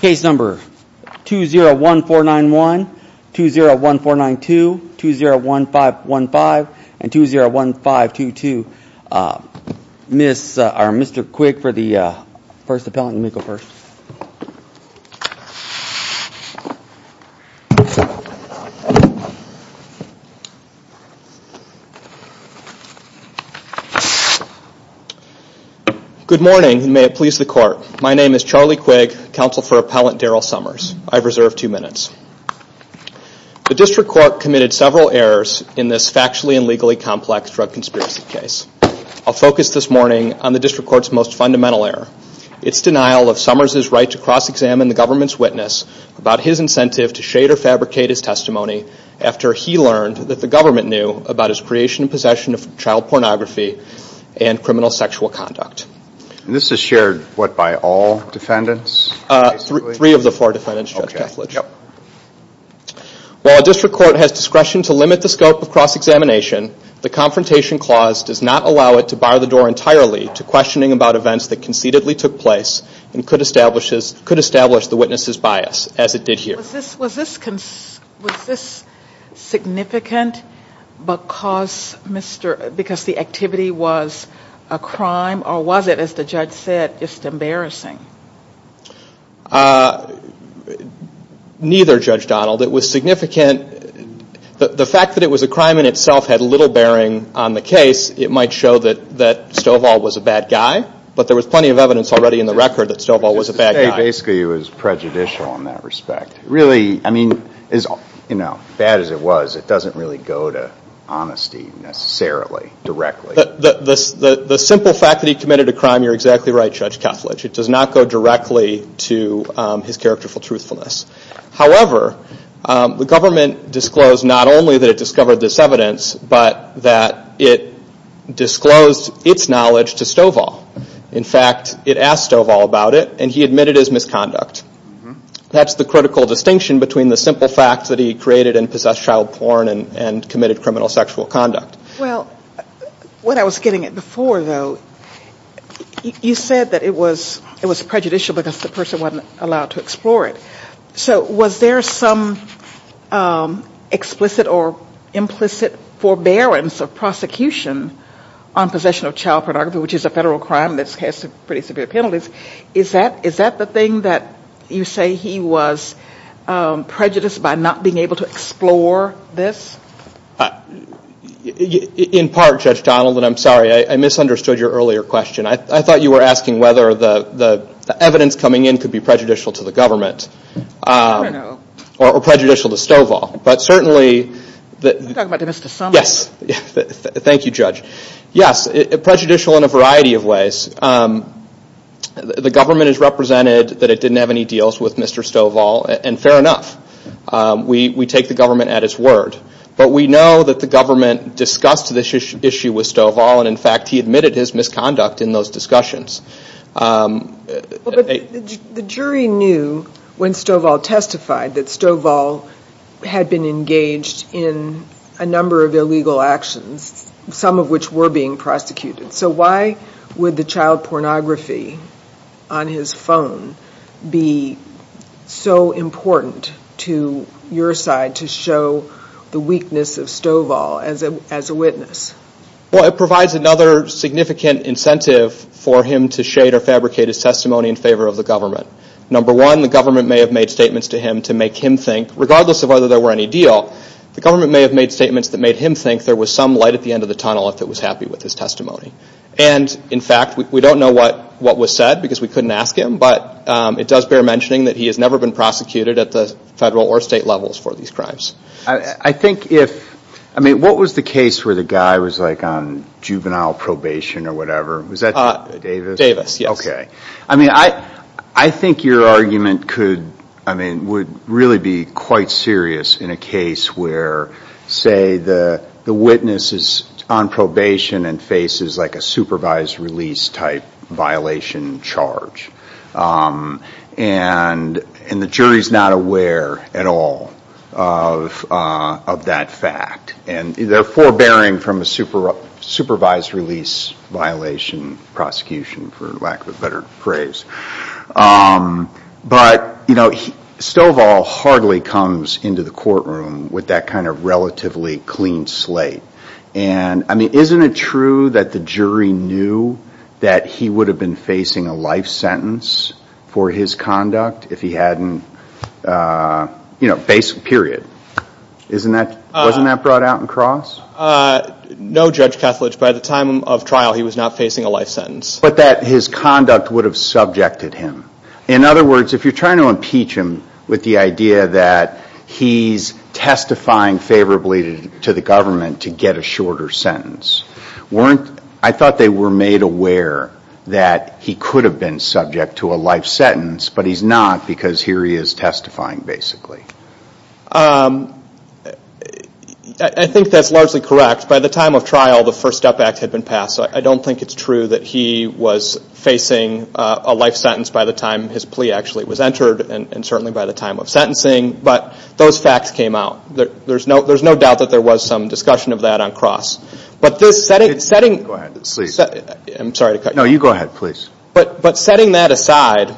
Case number 201491, 201492, 201515, and 201522. Mr. Quigg for the first appellant, you may go first. Good morning, and may it please the court. My name is Charlie Quigg, counsel for appellant Daryl Summers. I've reserved two minutes. The District Court committed several errors in this factually and legally complex drug conspiracy case. I'll focus this morning on the District Court's most fundamental error, it's denial of Summers' right to cross-examine the government's witness about his incentive to shade or fabricate his testimony after he learned that the government knew about his creation and possession of child pornography and criminal sexual conduct. This is shared by what, all defendants? Three of the four defendants, yes. While the District Court has discretion to limit the scope of cross-examination, the confrontation clause does not allow it to bar the door entirely to questioning about events that concededly took place and could establish the witness's bias, as it did here. Was this significant because the activity was a crime, or was it, as the judge said, just embarrassing? Neither, Judge Donald. It was significant, but the fact that it was a crime in itself had little bearing on the case. It might show that Stovall was a bad guy, but there was plenty of evidence already in the record that Stovall was a bad guy. Basically, it was prejudicial in that respect. Really, as bad as it was, it doesn't really go to honesty, necessarily, directly. The simple fact that he committed a crime, you're exactly right, Judge Tosledge. It does not go directly to his characterful truthfulness. However, the government disclosed not only that it discovered this evidence, but that it disclosed its knowledge to Stovall. In fact, it asked Stovall about it, and he admitted his misconduct. That's the critical distinction between the simple fact that he created and possessed child porn and committed criminal sexual conduct. Well, what I was getting at before, though, you said that it was prejudicial because the Was there some explicit or implicit forbearance or prosecution on possession of child pornography, which is a federal crime that has pretty severe penalties? Is that the thing that you say he was prejudiced by not being able to explore this? In part, Judge Donaldson, I'm sorry. I misunderstood your earlier question. I thought you were asking whether the evidence coming in could be prejudicial to the government or prejudicial to Stovall. Are you talking about Mr. Summers? Yes. Thank you, Judge. Yes, prejudicial in a variety of ways. The government has represented that it didn't have any deals with Mr. Stovall, and fair enough. We take the government at its word. But we know that the government discussed this issue with Stovall, and in those discussions. The jury knew when Stovall testified that Stovall had been engaged in a number of illegal actions, some of which were being prosecuted. So why would the child pornography on his phone be so important to your side to show the weakness of Stovall as a witness? Well, it provides another significant incentive for him to shade or fabricate his testimony in favor of the government. Number one, the government may have made statements to him to make him think, regardless of whether there were any deal, the government may have made statements that made him think there was some light at the end of the tunnel if it was happy with his testimony. And in fact, we don't know what was said because we couldn't ask him, but it does bear mentioning that he has never been prosecuted at the federal or state levels for these crimes. I think if, I mean, what was the case where the guy was like on juvenile probation or whatever? Was that Davis? Davis, yes. Okay. I mean, I think your argument could, I mean, would really be quite serious in a case where, say, the witness is on probation and faces like a supervised release type violation charge. And the jury's not aware at all of that fact. And they're forbearing from a supervised release violation prosecution, for lack of a better phrase. But Stovall hardly comes into the courtroom with that kind of relatively clean slate. And I mean, isn't it true that the jury knew that he would have been facing a life sentence for his conduct if he hadn't, you know, basically, period. Isn't that, wasn't that brought out in cross? No, Judge Kethledge, but at the time of trial, he was not facing a life sentence. But that his conduct would have subjected him. In other words, if you're trying to impeach him with the idea that he's testifying favorably to the government to get a shorter sentence, weren't, I thought they were made aware that he could have been subject to a life sentence, but he's not because here he is testifying, basically. I think that's largely correct. By the time of trial, the First Step Act had been passed. So I don't think it's true that he was facing a life sentence by the time his plea actually was entered and certainly by the time of sentencing. But those facts came out. There's no, there's no doubt that there was some discussion of that on cross. But setting that aside,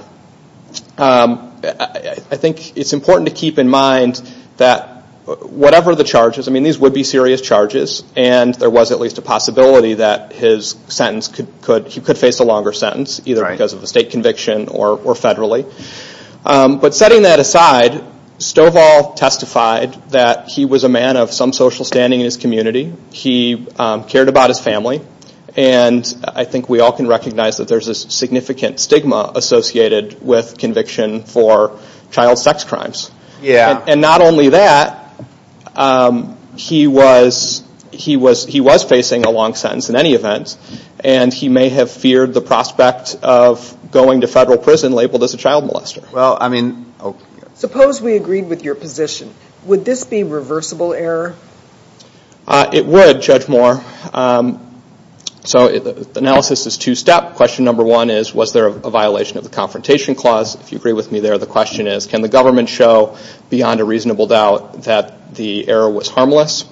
I think it's important to keep in mind that whatever the charges, I mean, these would be serious charges and there was at least a possibility that his sentence could face a longer sentence either because of a state conviction or federally. But setting that aside, Stovall testified that he was a man of some social standing in his community. He cared about his family. And I think we all can recognize that there's a significant stigma associated with conviction for child sex crimes. And not only that, he was facing a long sentence in any event. And he may have feared the prospect of going to federal prison labeled as a child molester. Suppose we agreed with your position. Would this be a reversible error? It would, Judge Moore. So analysis is two-step. Question number one is, was there a violation of the Confrontation Clause? If you agree with me there, the question is, can the government show beyond a reasonable doubt that the error was harmless?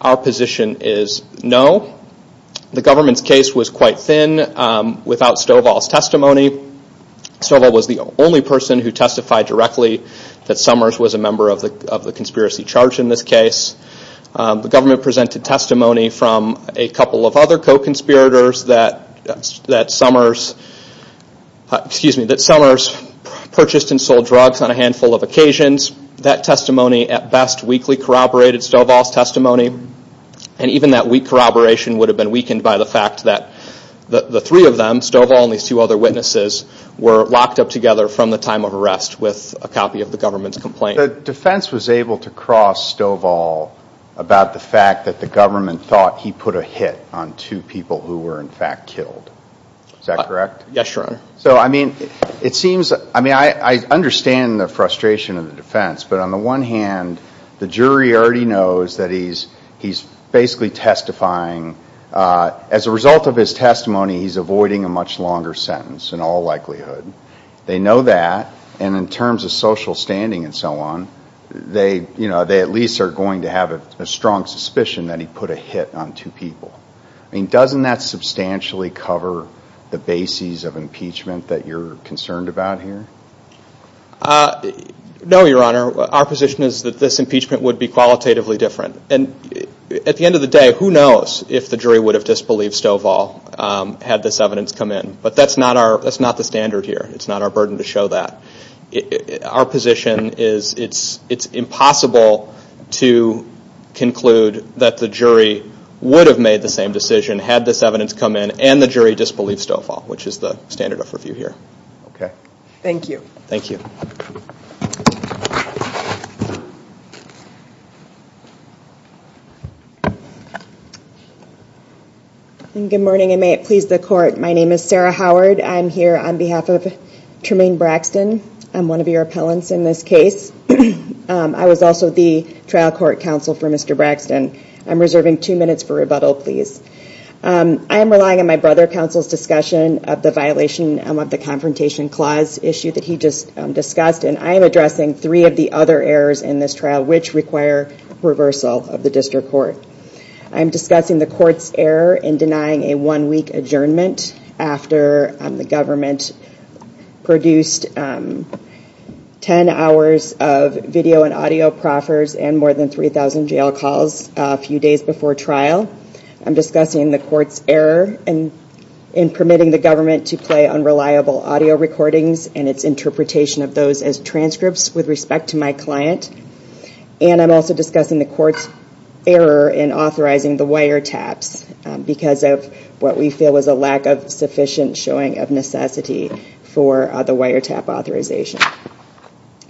Our position is no. The government's case was quite thin without Stovall's testimony. Stovall was the only person who testified directly that Summers was a member of the conspiracy charge in this case. The government presented testimony from a couple of other co-conspirators that Summers purchased and sold drugs on a handful of occasions. That testimony at best weakly corroborated Stovall's testimony. And even that weak corroboration would have been weakened by the fact that the three of them, Stovall and these two other witnesses, were locked up together from the time of arrest with a copy of the government's complaint. The defense was able to cross Stovall about the fact that the government thought he put a hit on two people who were in fact killed. Is that correct? Yes, Your Honor. I understand the frustration of the defense, but on the one hand, the jury already knows that he's basically testifying. As a result of his testimony, he's avoiding a much longer sentence in all likelihood. They know that, and in terms of social standing and so on, they at least are going to have a strong suspicion that he put a hit on two people. Doesn't that substantially cover the bases of impeachment that you're concerned about here? No, Your Honor. Our position is that this impeachment would be qualitatively different. At the end of the day, who knows if the jury would have disbelieved Stovall had this evidence come in. But that's not the standard here. It's not our burden to show that. Our position is it's impossible to conclude that the jury would have made the same decision had this evidence come in and the jury disbelieved Stovall, which is the standard of review here. Okay. Thank you. Thank you. Good morning and may it please the court. My name is Sarah Howard. I'm here on behalf of Tremaine Braxton, one of your appellants in this case. I was also the trial court counsel for Mr. Braxton. I'm reserving two minutes for rebuttal, please. I am relying on my brother counsel's discussion of the violation of the Confrontation Clause issue that he just discussed, and I am addressing three different issues. Three of the other errors in this trial, which require reversal of the district court. I am discussing the court's error in denying a one-week adjournment after the government produced 10 hours of video and audio proffers and more than 3,000 jail calls a few days before trial. I'm discussing the court's error in permitting the government to play unreliable audio recordings and its interpretation of those as transcripts with respect to my client. And I'm also discussing the court's error in authorizing the wiretaps because of what we feel is a lack of sufficient showing of necessity for the wiretap authorization.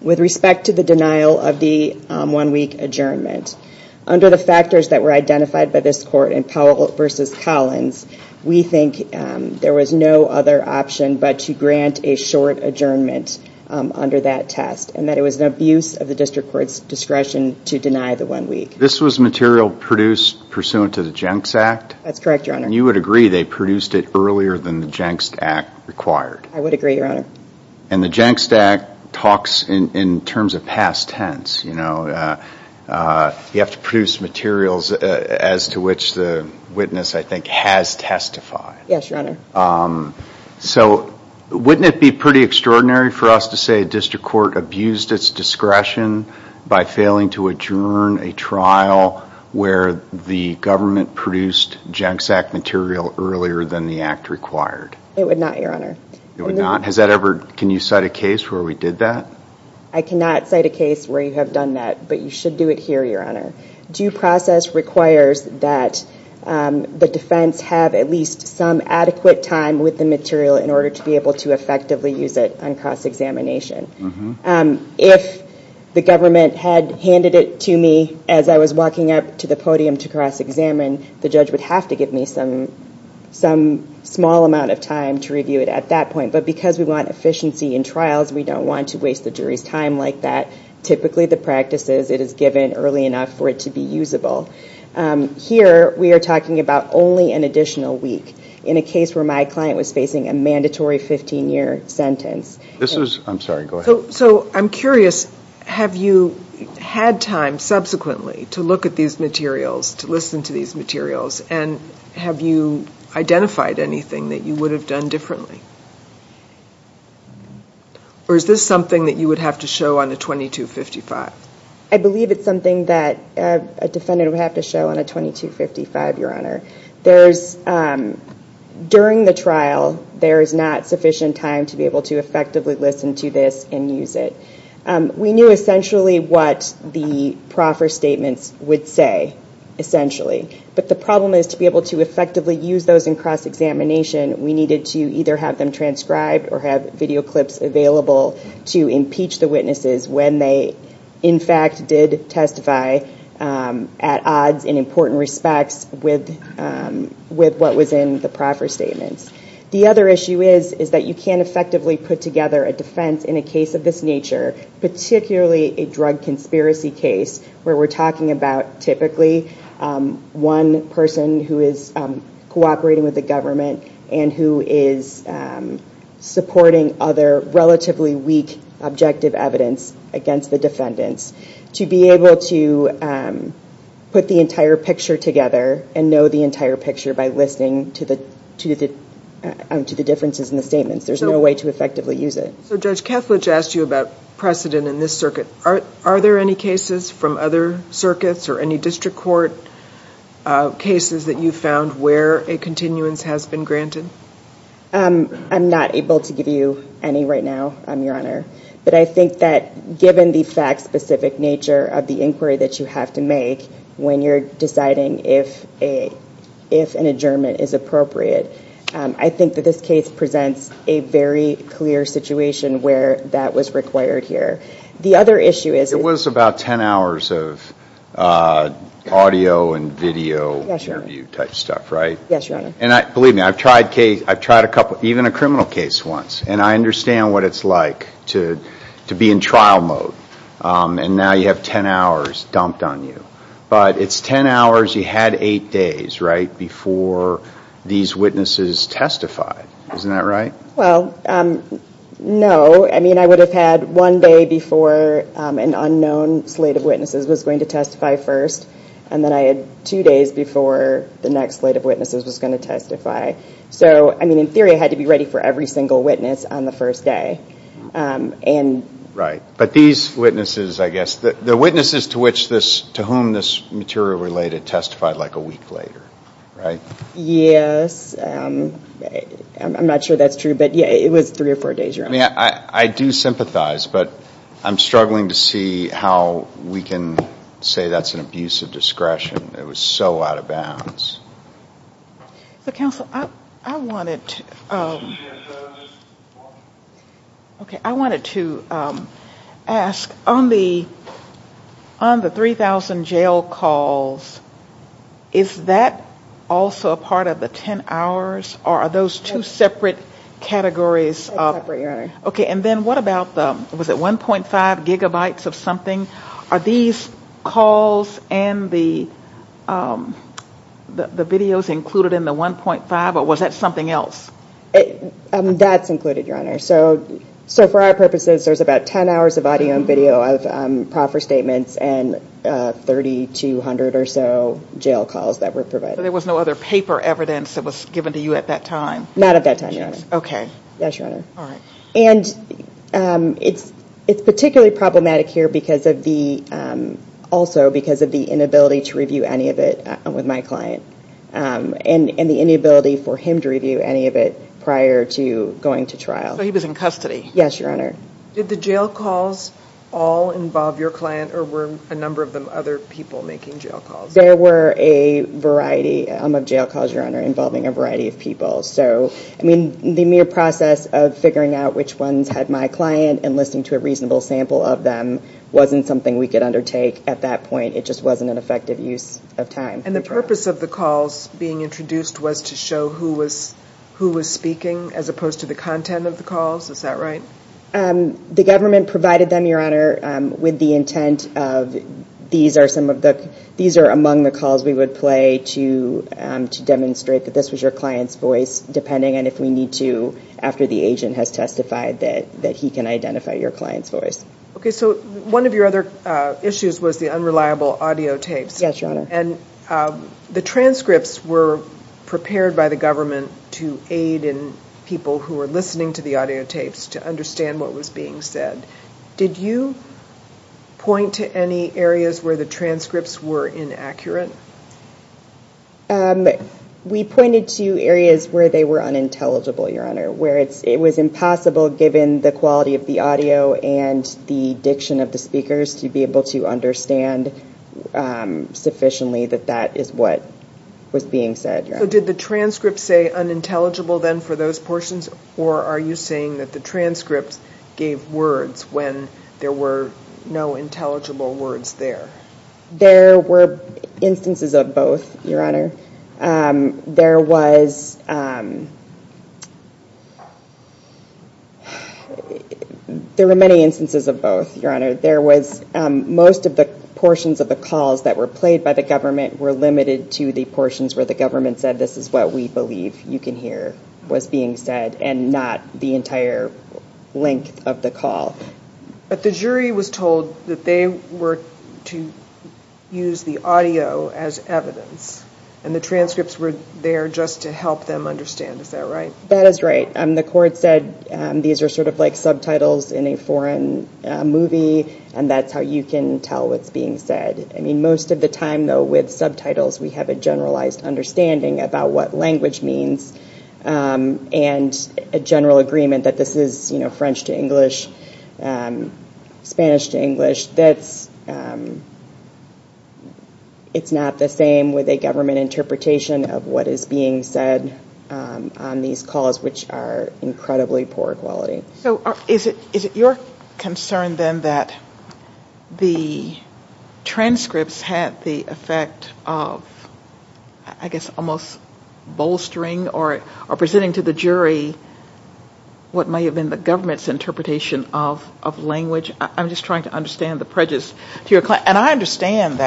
With respect to the denial of the one-week adjournment, under the factors that were identified by this court in Powell v. Collins, we think there was no other option but to grant a short adjournment under that test and that it was an abuse of the district court's discretion to deny the one week. This was material produced pursuant to the Jenks Act? That's correct, Your Honor. And you would agree they produced it earlier than the Jenks Act required? I would agree, Your Honor. And the Jenks Act talks in terms of past tense. You have to produce materials as to which the witness, I think, has testified. Yes, Your Honor. So wouldn't it be pretty extraordinary for us to say a district court abused its discretion by failing to adjourn a trial where the government produced Jenks Act material earlier than the act required? It would not, Your Honor. It would not? Can you cite a case where we did that? I cannot cite a case where you have done that, but you should do it here, Your Honor. Due process requires that the defense have at least some adequate time with the material in order to be able to effectively use it on cross-examination. If the government had handed it to me as I was walking up to the podium to cross-examine, the judge would have to give me some small amount of time to review it at that point. But because we want efficiency in trials, we don't want to waste the jury's time like that. Typically the practice is it is given early enough for it to be usable. Here we are talking about only an additional week in a case where my client was facing a mandatory 15-year sentence. I'm sorry, go ahead. So I'm curious, have you had time subsequently to look at these materials, to listen to these materials, and have you identified anything that you would have done differently? Or is this something that you would have to show on a 2255? I believe it's something that a defendant would have to show on a 2255, Your Honor. During the trial, there is not sufficient time to be able to effectively listen to this and use it. We knew essentially what the proffer statement would say, essentially. But the problem is to be able to effectively use those in cross-examination, we needed to either have them transcribed or have video clips available to impeach the witnesses when they in fact did testify at odds in important respect with what was in the proffer statement. The other issue is that you can't effectively put together a defense in a case of this nature, particularly a drug conspiracy case where we're talking about typically one person who is cooperating with the government and who is supporting other relatively weak objective evidence against the defendants, to be able to put the entire picture together and know the entire picture by listening to the differences in the statements. There's no way to effectively use it. Judge Kessler just asked you about precedent in this circuit. Are there any cases from other circuits or any district court cases that you found where a continuance has been granted? I'm not able to give you any right now, Your Honor. But I think that given the fact-specific nature of the inquiry that you have to make when you're deciding if an adjournment is appropriate, I think that this case presents a very clear situation where that was required here. The other issue is... There was about 10 hours of audio and video interview type stuff, right? Yes, Your Honor. And believe me, I've tried even a criminal case once, and I understand what it's like to be in trial mode. And now you have 10 hours dumped on you. But it's 10 hours. You had eight days, right, before these witnesses testified. Isn't that right? Well, no. I mean, I would have had one day before an unknown slate of witnesses was going to testify first, and then I had two days before the next slate of witnesses was going to testify. So, I mean, in theory, I had to be ready for every single witness on the first day. Right. But these witnesses, I guess, they're witnesses to whom this material related testified like a week later, right? Yes. I'm not sure that's true, but, yeah, it was three or four days, Your Honor. I do sympathize, but I'm struggling to see how we can say that's an abuse of discretion. It was so out of bounds. Counsel, I wanted to ask, on the 3,000 jail calls, is that also a part of the 10 hours, or are those two separate categories? Separate categories. Okay. And then what about the, was it 1.5 gigabytes of something? Are these calls and the videos included in the 1.5, or was that something else? That's included, Your Honor. So, for our purposes, there's about 10 hours of audio and video of proffer statements and 3,200 or so jail calls that were provided. So there was no other paper evidence that was given to you at that time? Not at that time, Your Honor. Okay. Yes, Your Honor. All right. And it's particularly problematic here also because of the inability to review any of it with my client and the inability for him to review any of it prior to going to trial. So he was in custody? Yes, Your Honor. Did the jail calls all involve your client, or were a number of other people making jail calls? There were a variety of jail calls, Your Honor, involving a variety of people. The mere process of figuring out which ones had my client and listening to a reasonable sample of them wasn't something we could undertake at that point. It just wasn't an effective use of time. And the purpose of the calls being introduced was to show who was speaking as opposed to the content of the calls? Is that right? The government provided them, Your Honor, with the intent of these are among the calls we would play to demonstrate that this was your client's voice, depending on if we need to, after the agent has testified that he can identify your client's voice. Okay. So one of your other issues was the unreliable audio tapes. Yes, Your Honor. And the transcripts were prepared by the government to aid in people who were listening to the audio tapes to understand what was being said. Did you point to any areas where the transcripts were inaccurate? We pointed to areas where they were unintelligible, Your Honor, where it was impossible, given the quality of the audio and the diction of the speakers, to be able to understand sufficiently that that is what was being said. So did the transcripts say unintelligible then for those portions, or are you saying that the transcripts gave words when there were no intelligible words there? There were instances of both, Your Honor. There were many instances of both, Your Honor. Most of the portions of the calls that were played by the government were limited to the portions where the government said, this is what we believe you can hear what's being said and not the entire length of the call. But the jury was told that they were to use the audio as evidence, and the transcripts were there just to help them understand. Is that right? That is right. The court said these are sort of like subtitles in a foreign movie, and that's how you can tell what's being said. Most of the time, though, with subtitles, we have a generalized understanding about what language means and a general agreement that this is French to English, Spanish to English. It's not the same with a government interpretation of what is being said on these calls, which are incredibly poor quality. Is it your concern, then, that the transcripts have the effect of, I guess, almost bolstering or presenting to the jury what may have been the government's interpretation of language? I'm just trying to understand the prejudice. And I understand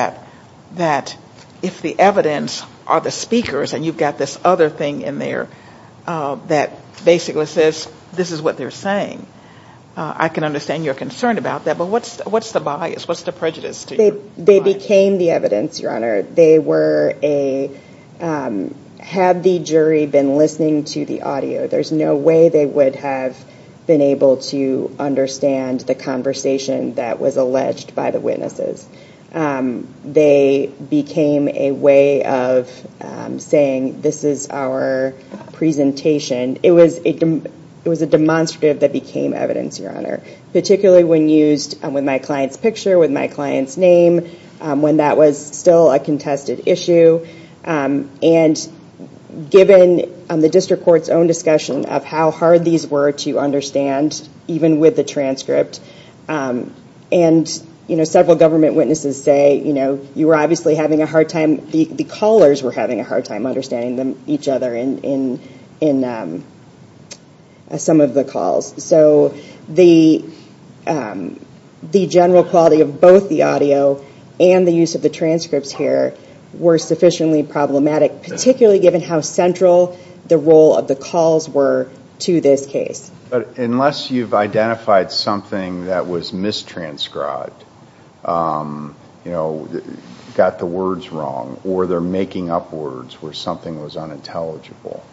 that if the evidence are the speakers, and you've got this other thing in there that basically says this is what they're saying. I can understand your concern about that, but what's the bias? What's the prejudice? They became the evidence, Your Honor. They were a – had the jury been listening to the audio, there's no way they would have been able to understand the conversation that was alleged by the witnesses. They became a way of saying this is our presentation. It was a demonstrative that became evidence, Your Honor, particularly when used with my client's picture, with my client's name, when that was still a contested issue. And given the district court's own discussion of how hard these were to understand, even with the transcript, and several government witnesses say you were obviously having a hard time – the callers were having a hard time understanding each other in some of the calls. So the general quality of both the audio and the use of the transcripts here were sufficiently problematic, particularly given how central the role of the calls were to this case. But unless you've identified something that was mistranscribed, you know, got the words wrong, or they're making up words where something was unintelligible.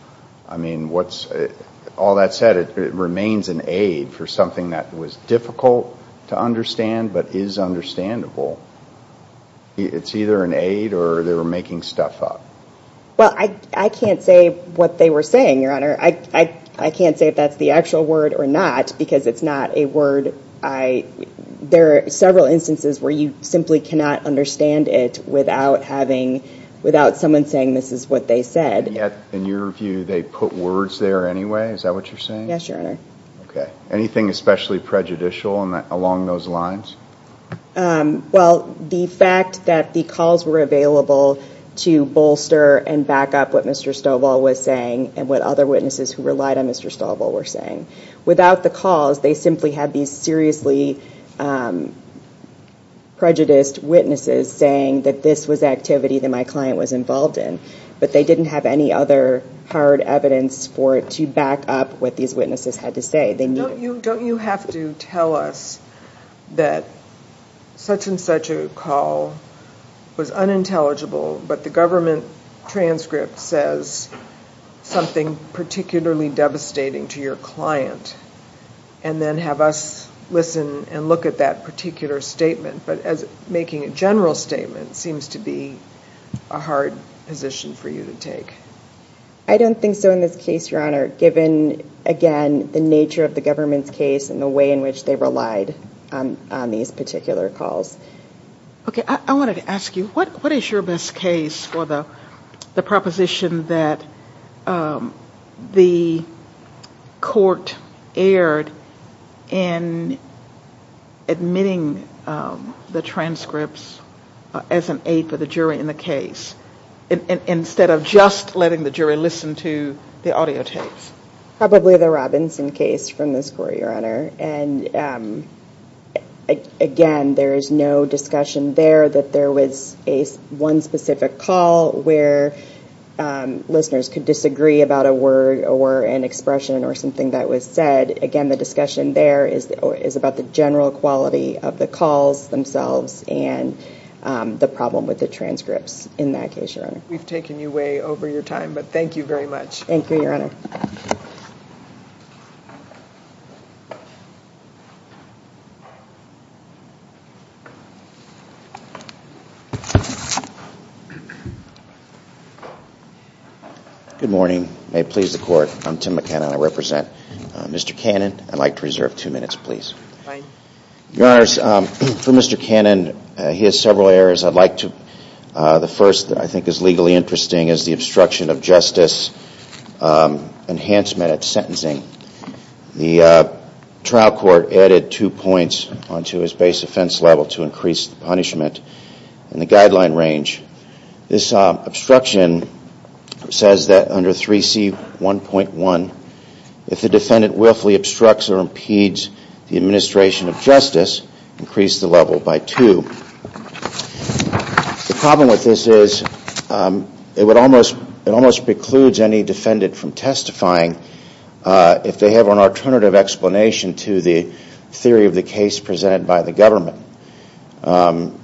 I mean, what's – all that said, it remains an aid for something that was difficult to understand but is understandable. It's either an aid or they were making stuff up. Well, I can't say what they were saying, Your Honor. I can't say if that's the actual word or not because it's not a word I – there are several instances where you simply cannot understand it without having – without someone saying this is what they said. In your view, they put words there anyway? Is that what you're saying? Yes, Your Honor. Okay. Anything especially prejudicial along those lines? Well, the fact that the calls were available to bolster and back up what Mr. Stovall was saying and what other witnesses who relied on Mr. Stovall were saying. Without the calls, they simply had these seriously prejudiced witnesses saying that this was activity that my client was involved in, but they didn't have any other hard evidence for it to back up what these witnesses had to say. Don't you have to tell us that such-and-such a call was unintelligible, but the government transcript says something particularly devastating to your client, and then have us listen and look at that particular statement? But making a general statement seems to be a hard position for you to take. I don't think so in this case, Your Honor, given, again, the nature of the government's case and the way in which they relied on these particular calls. Okay. I wanted to ask you, what is your best case for the proposition that the court erred in admitting the transcripts as an aid to the jury in the case instead of just letting the jury listen to the audio tapes? Probably the Robinson case from this court, Your Honor. Again, there is no discussion there that there was one specific call where listeners could disagree about a word or an expression or something that was said. Again, the discussion there is about the general quality of the calls themselves and the problem with the transcripts in that case, Your Honor. We've taken you way over your time, but thank you very much. Thank you, Your Honor. Good morning. May it please the court. I'm Tim McKenna, and I represent Mr. Cannon. I'd like to reserve two minutes, please. Fine. Your Honors, for Mr. Cannon, he has several errors. I'd like to—the first, I think, is legally interesting, The case that Mr. Cannon was charged with, the trial court added two points onto his base offense level to increase the punishment in the guideline range. This obstruction says that under 3C1.1, if the defendant willfully obstructs or impedes the administration of justice, increase the level by two. The problem with this is it almost precludes any defendant from testifying if they have an alternative explanation to the theory of the case presented by the government.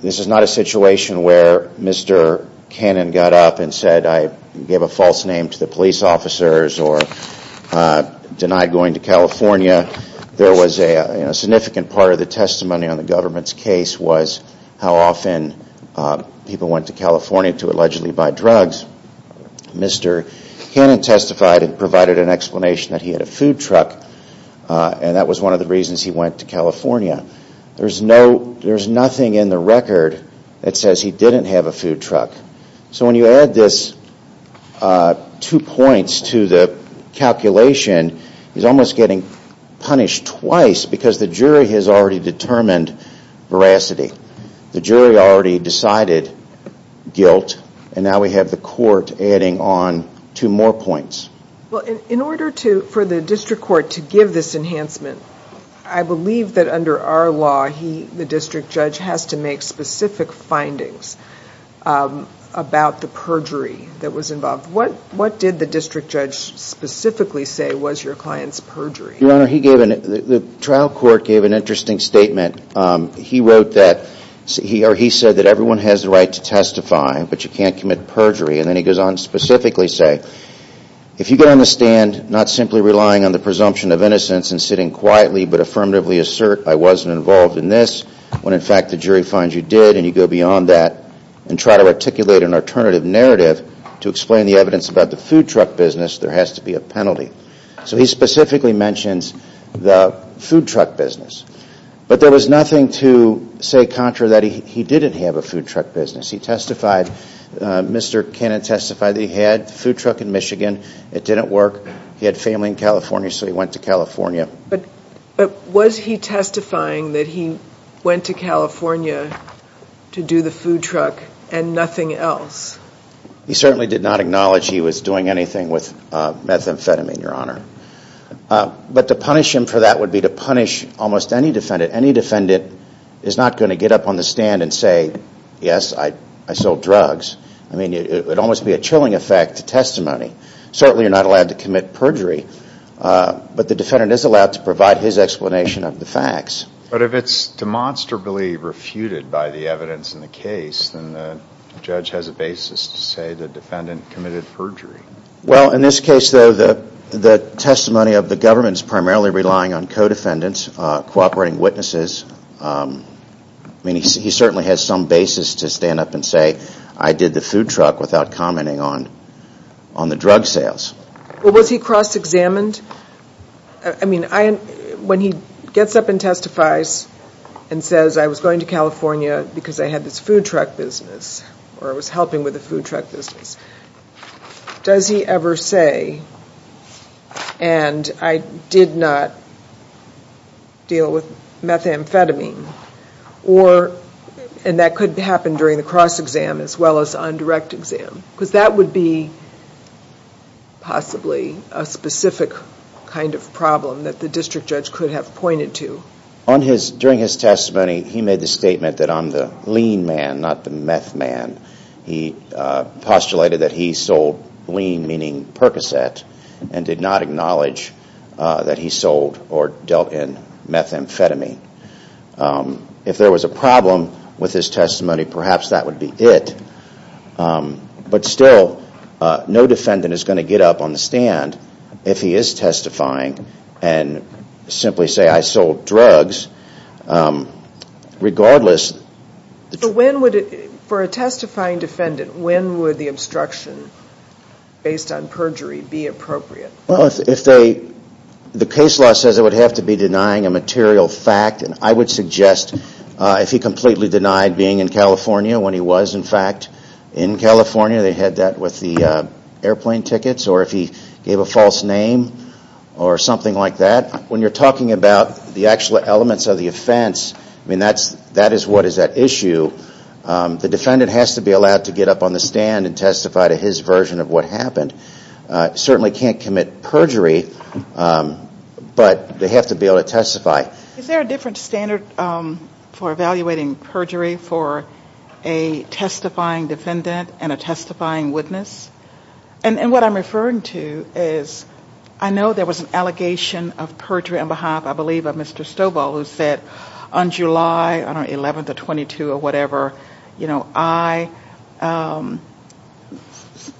This is not a situation where Mr. Cannon got up and said, I gave a false name to the police officers or denied going to California. A significant part of the testimony on the government's case was how often people went to California to allegedly buy drugs. Mr. Cannon testified and provided an explanation that he had a food truck, and that was one of the reasons he went to California. There's nothing in the record that says he didn't have a food truck. So when you add these two points to the calculation, he's almost getting punished twice because the jury has already determined veracity. The jury already decided guilt, and now we have the court adding on two more points. In order for the district court to give this enhancement, I believe that under our law the district judge has to make specific findings about the perjury that was involved. What did the district judge specifically say was your client's perjury? Your Honor, the trial court gave an interesting statement. He said that everyone has the right to testify, but you can't commit perjury. Then he goes on to specifically say, if you're going to stand not simply relying on the presumption of innocence and sitting quietly but affirmatively assert I wasn't involved in this, when in fact the jury finds you did and you go beyond that and try to articulate an alternative narrative to explain the evidence about the food truck business, there has to be a penalty. So he specifically mentions the food truck business. But there was nothing to say contra that he didn't have a food truck business. He testified, Mr. Cannon testified that he had a food truck in Michigan. It didn't work. He had family in California, so he went to California. But was he testifying that he went to California to do the food truck and nothing else? He certainly did not acknowledge he was doing anything with methamphetamine, Your Honor. But the punishment for that would be to punish almost any defendant. Any defendant is not going to get up on the stand and say, yes, I sold drugs. It would almost be a chilling effect to testimony. Certainly you're not allowed to commit perjury, but the defendant is allowed to provide his explanation of the facts. But if it's demonstrably refuted by the evidence in the case, then the judge has a basis to say the defendant committed perjury. Well, in this case, though, the testimony of the government is primarily relying on co-defendants, cooperating witnesses. I mean, he certainly has some basis to stand up and say, I did the food truck without commenting on the drug sales. But was he cross-examined? I mean, when he gets up and testifies and says, I was going to California because I had this food truck business or I was helping with the food truck business, does he ever say, and I did not deal with methamphetamine? And that could happen during the cross-exam as well as on direct exam. Because that would be possibly a specific kind of problem that the district judge could have pointed to. During his testimony, he made the statement that I'm the lean man, not the meth man. He postulated that he sold lean, meaning Percocet, and did not acknowledge that he sold or dealt in methamphetamine. If there was a problem with his testimony, perhaps that would be it. But still, no defendant is going to get up on the stand if he is testifying and simply say, I sold drugs, regardless. So when would it, for a testifying defendant, when would the instruction based on perjury be appropriate? If they, the case law says it would have to be denying a material fact, and I would suggest if he completely denied being in California when he was in fact in California, they had that with the airplane tickets, or if he gave a false name or something like that. When you're talking about the actual elements of the offense, that is what is at issue. The defendant has to be allowed to get up on the stand and testify to his version of what happened. Certainly can't commit perjury, but they have to be able to testify. Is there a different standard for evaluating perjury for a testifying defendant and a testifying witness? And what I'm referring to is I know there was an allegation of perjury on behalf, I believe, of Mr. Stoball who said on July 11th or 22nd or whatever, you know, I,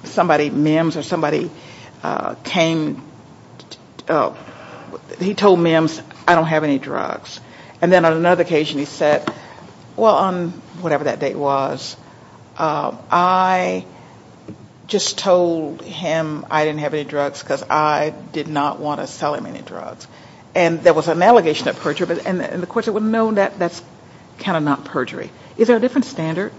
somebody, MIMS or somebody came, he told MIMS, I don't have any drugs. And then on another occasion he said, well, on whatever that date was, I just told him I didn't have any drugs because I did not want to sell him any drugs. And there was an allegation of perjury, but in the courts it was known that that's kind of not perjury. Is there a different standard?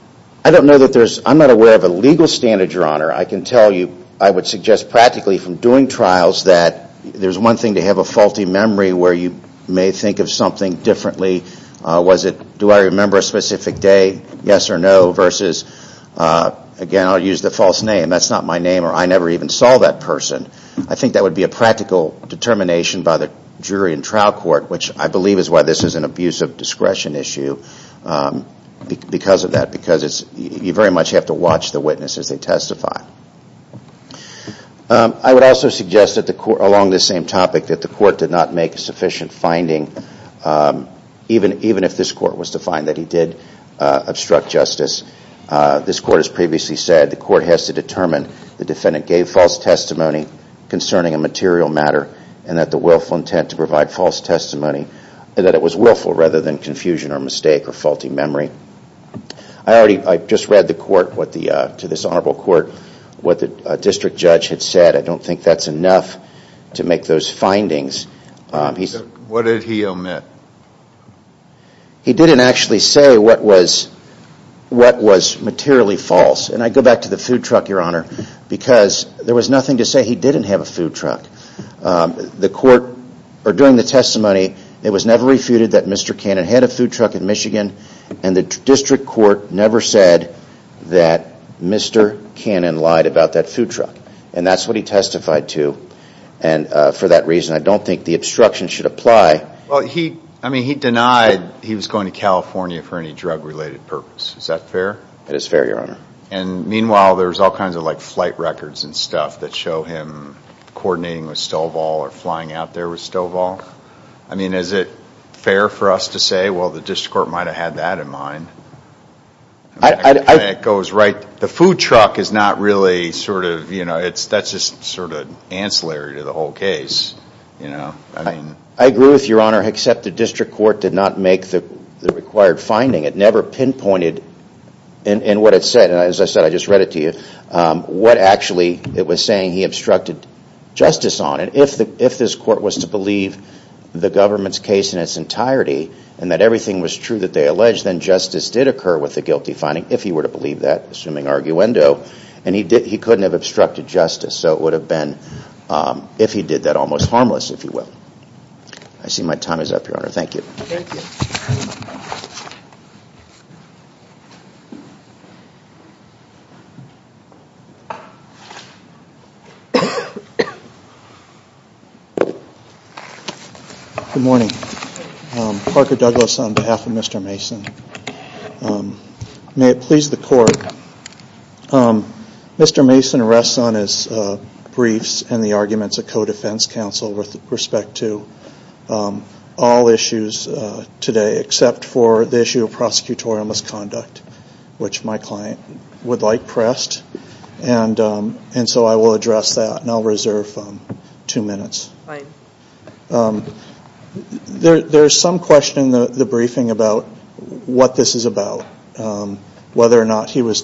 I don't know that there's, I'm not aware of a legal standard, Your Honor. I can tell you, I would suggest practically from doing trials that there's one thing to have a faulty memory where you may think of something differently. Was it, do I remember a specific day, yes or no, versus, again, I'll use the false name. That's not my name or I never even saw that person. I think that would be a practical determination by the jury in trial court, which I believe is why this is an abuse of discretion issue because of that, because it's, you very much have to watch the witness as they testify. I would also suggest that the court, along this same topic, that the court did not make a sufficient finding, even if this court was to find that he did obstruct justice. This court has previously said the court has to determine the defendant gave false testimony concerning a material matter and that the willful intent to provide false testimony, that it was willful rather than confusion or mistake or faulty memory. I just read the court, to this honorable court, what the district judge had said. I don't think that's enough to make those findings. What did he omit? He didn't actually say what was materially false, and I go back to the food truck, your honor, because there was nothing to say he didn't have a food truck. The court, or during the testimony, it was never refuted that Mr. Cannon had a food truck in Michigan and the district court never said that Mr. Cannon lied about that food truck, and that's what he testified to, and for that reason, I don't think the obstruction should apply. He denied he was going to California for any drug-related purpose. Is that fair? It is fair, your honor. Meanwhile, there's all kinds of flight records and stuff that show him coordinating with Stovall or flying out there with Stovall. Is it fair for us to say, well, the district court might have had that in mind? It goes right, the food truck is not really sort of, that's just sort of ancillary to the whole case. I agree with you, your honor, except the district court did not make the required finding. It never pinpointed in what it said, and as I said, I just read it to you, what actually it was saying he obstructed justice on. If this court was to believe the government's case in its entirety and that everything was true that they alleged, then justice did occur with the guilty finding, if he were to believe that, assuming arguendo, and he couldn't have obstructed justice, so it would have been if he did that almost harmless, if you will. I see my time is up, your honor. Thank you. Thank you. Good morning. Parker Douglas on behalf of Mr. Mason. May it please the court. Mr. Mason rests on his briefs and the arguments of co-defense counsel with respect to all issues today, except for the issue of prosecutorial misconduct, which my client would like pressed, and so I will address that, and I'll reserve two minutes. There is some question in the briefing about what this is about, whether or not Mr.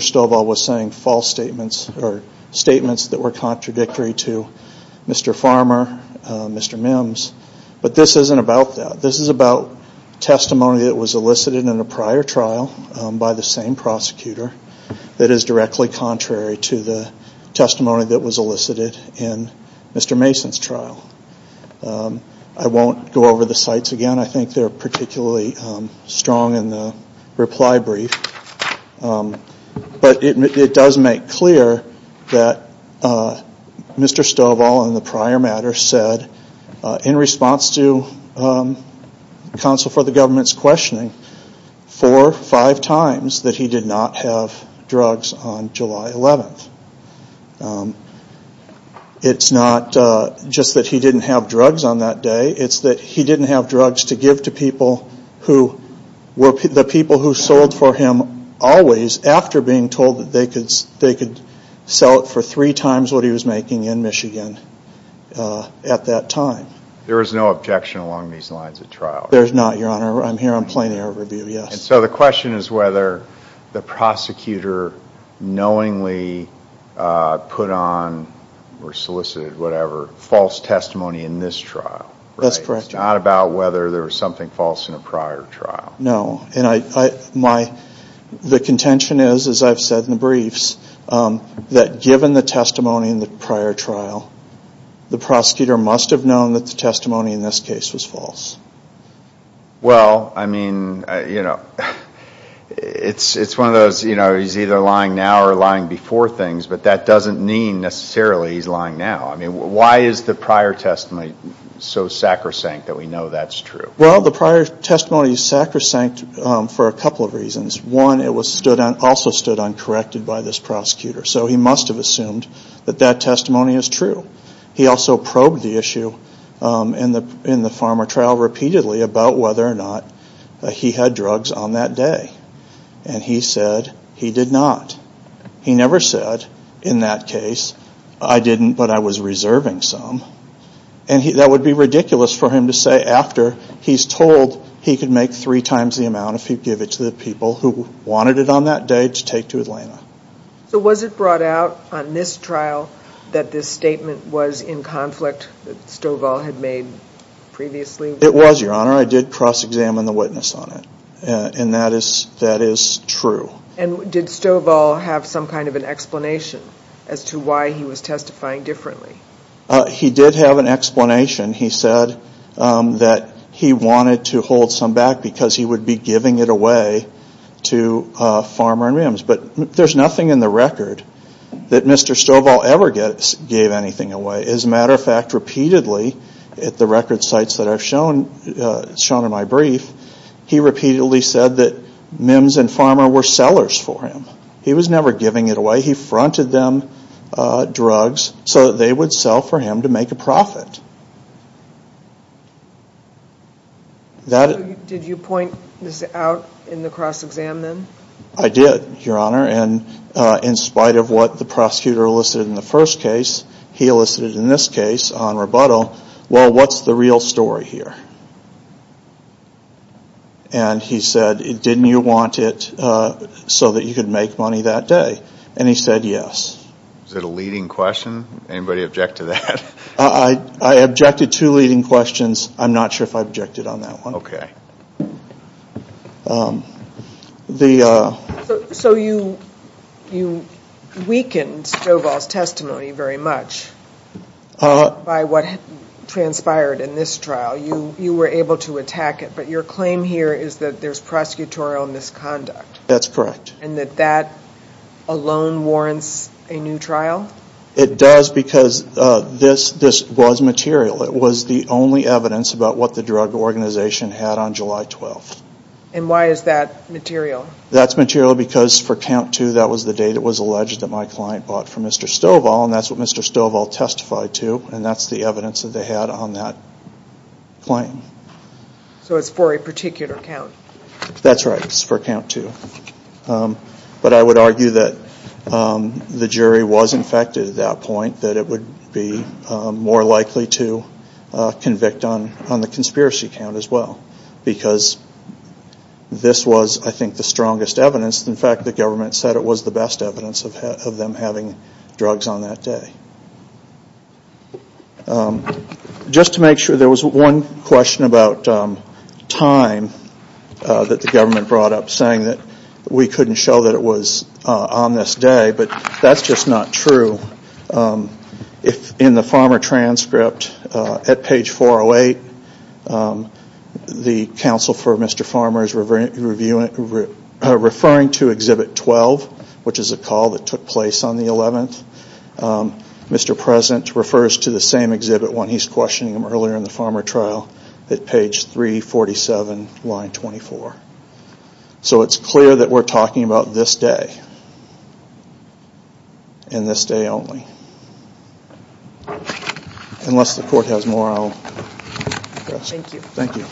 Stoball was saying false statements or statements that were contradictory to Mr. Farmer, Mr. Mims, but this isn't about that. This is about testimony that was elicited in a prior trial by the same prosecutor that is directly contrary to the testimony that was elicited in Mr. Mason's trial. I won't go over the sites again. I think they're particularly strong in the reply brief, but it does make clear that Mr. Stoball in the prior matter said, four or five times that he did not have drugs on July 11th. It's not just that he didn't have drugs on that day. It's that he didn't have drugs to give to people who were the people who sold for him always after being told that they could sell it for three times what he was making in Michigan at that time. There is no objection along these lines at trial. There is not, Your Honor. I'm here on plain air of review, yes. So the question is whether the prosecutor knowingly put on or solicited, whatever, false testimony in this trial. That's correct, Your Honor. It's not about whether there was something false in a prior trial. No, and the contention is, as I've said in the briefs, that given the testimony in the prior trial, the prosecutor must have known that the testimony in this case was false. Well, I mean, you know, it's one of those, you know, he's either lying now or lying before things, but that doesn't mean necessarily he's lying now. I mean, why is the prior testimony so sacrosanct that we know that's true? Well, the prior testimony is sacrosanct for a couple of reasons. One, it also stood uncorrected by this prosecutor, so he must have assumed that that testimony is true. He also probed the issue in the farmer trial repeatedly about whether or not he had drugs on that day, and he said he did not. He never said in that case, I didn't, but I was reserving some, and that would be ridiculous for him to say after he's told he could make three times the amount if he gave it to the people who wanted it on that day to take to Atlanta. So was it brought out on this trial that this statement was in conflict, that Stovall had made previously? It was, Your Honor. I did cross-examine the witness on it, and that is true. And did Stovall have some kind of an explanation as to why he was testifying differently? He did have an explanation. He said that he wanted to hold some back because he would be giving it away to Farmer and Rims, but there's nothing in the record that Mr. Stovall ever gave anything away. As a matter of fact, repeatedly at the record sites that are shown in my brief, he repeatedly said that Mims and Farmer were sellers for him. He was never giving it away. He fronted them drugs so that they would sell for him to make a profit. Did you point this out in the cross-examination? I did, Your Honor, and in spite of what the prosecutor listed in the first case, he listed in this case on rebuttal, well, what's the real story here? And he said, didn't you want it so that you could make money that day? And he said yes. Is that a leading question? Anybody object to that? I objected to leading questions. I'm not sure if I objected on that one. Okay. So you weakened Stovall's testimony very much by what transpired in this trial. You were able to attack it, but your claim here is that there's prosecutorial misconduct. That's correct. And that that alone warrants a new trial? It does because this was material. It was the only evidence about what the drug organization had on July 12th. And why is that material? That's material because for count two, that was the day that was alleged that my client bought from Mr. Stovall, and that's what Mr. Stovall testified to, and that's the evidence that they had on that claim. So it's for a particular count. That's right. It's for count two. But I would argue that the jury was infected at that point, that it would be more likely to convict on the conspiracy count as well because this was, I think, the strongest evidence. In fact, the government said it was the best evidence of them having drugs on that day. Just to make sure, there was one question about time that the government brought up, saying that we couldn't show that it was on this day, but that's just not true. In the farmer transcript at page 408, the counsel for Mr. Farmer is referring to Exhibit 12, which is a call that took place on the 11th. Mr. President refers to the same exhibit when he's questioning him earlier in the farmer trial at page 347, line 24. So it's clear that we're talking about this day and this day only. Unless the court has more, I'll... Thank you. Thank you.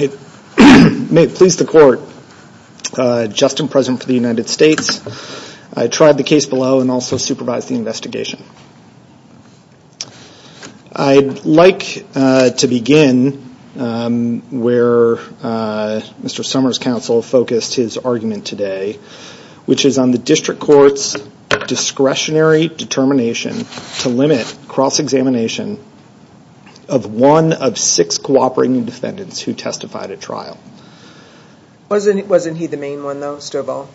It may please the court, just in presence of the United States, I tried the case below and also supervised the investigation. I'd like to begin where Mr. Summers' counsel focused his argument today, which is on the district court's discretionary determination to limit cross-examination of one of six cooperating defendants who testified at trial. Wasn't he the main one, though, Stovall?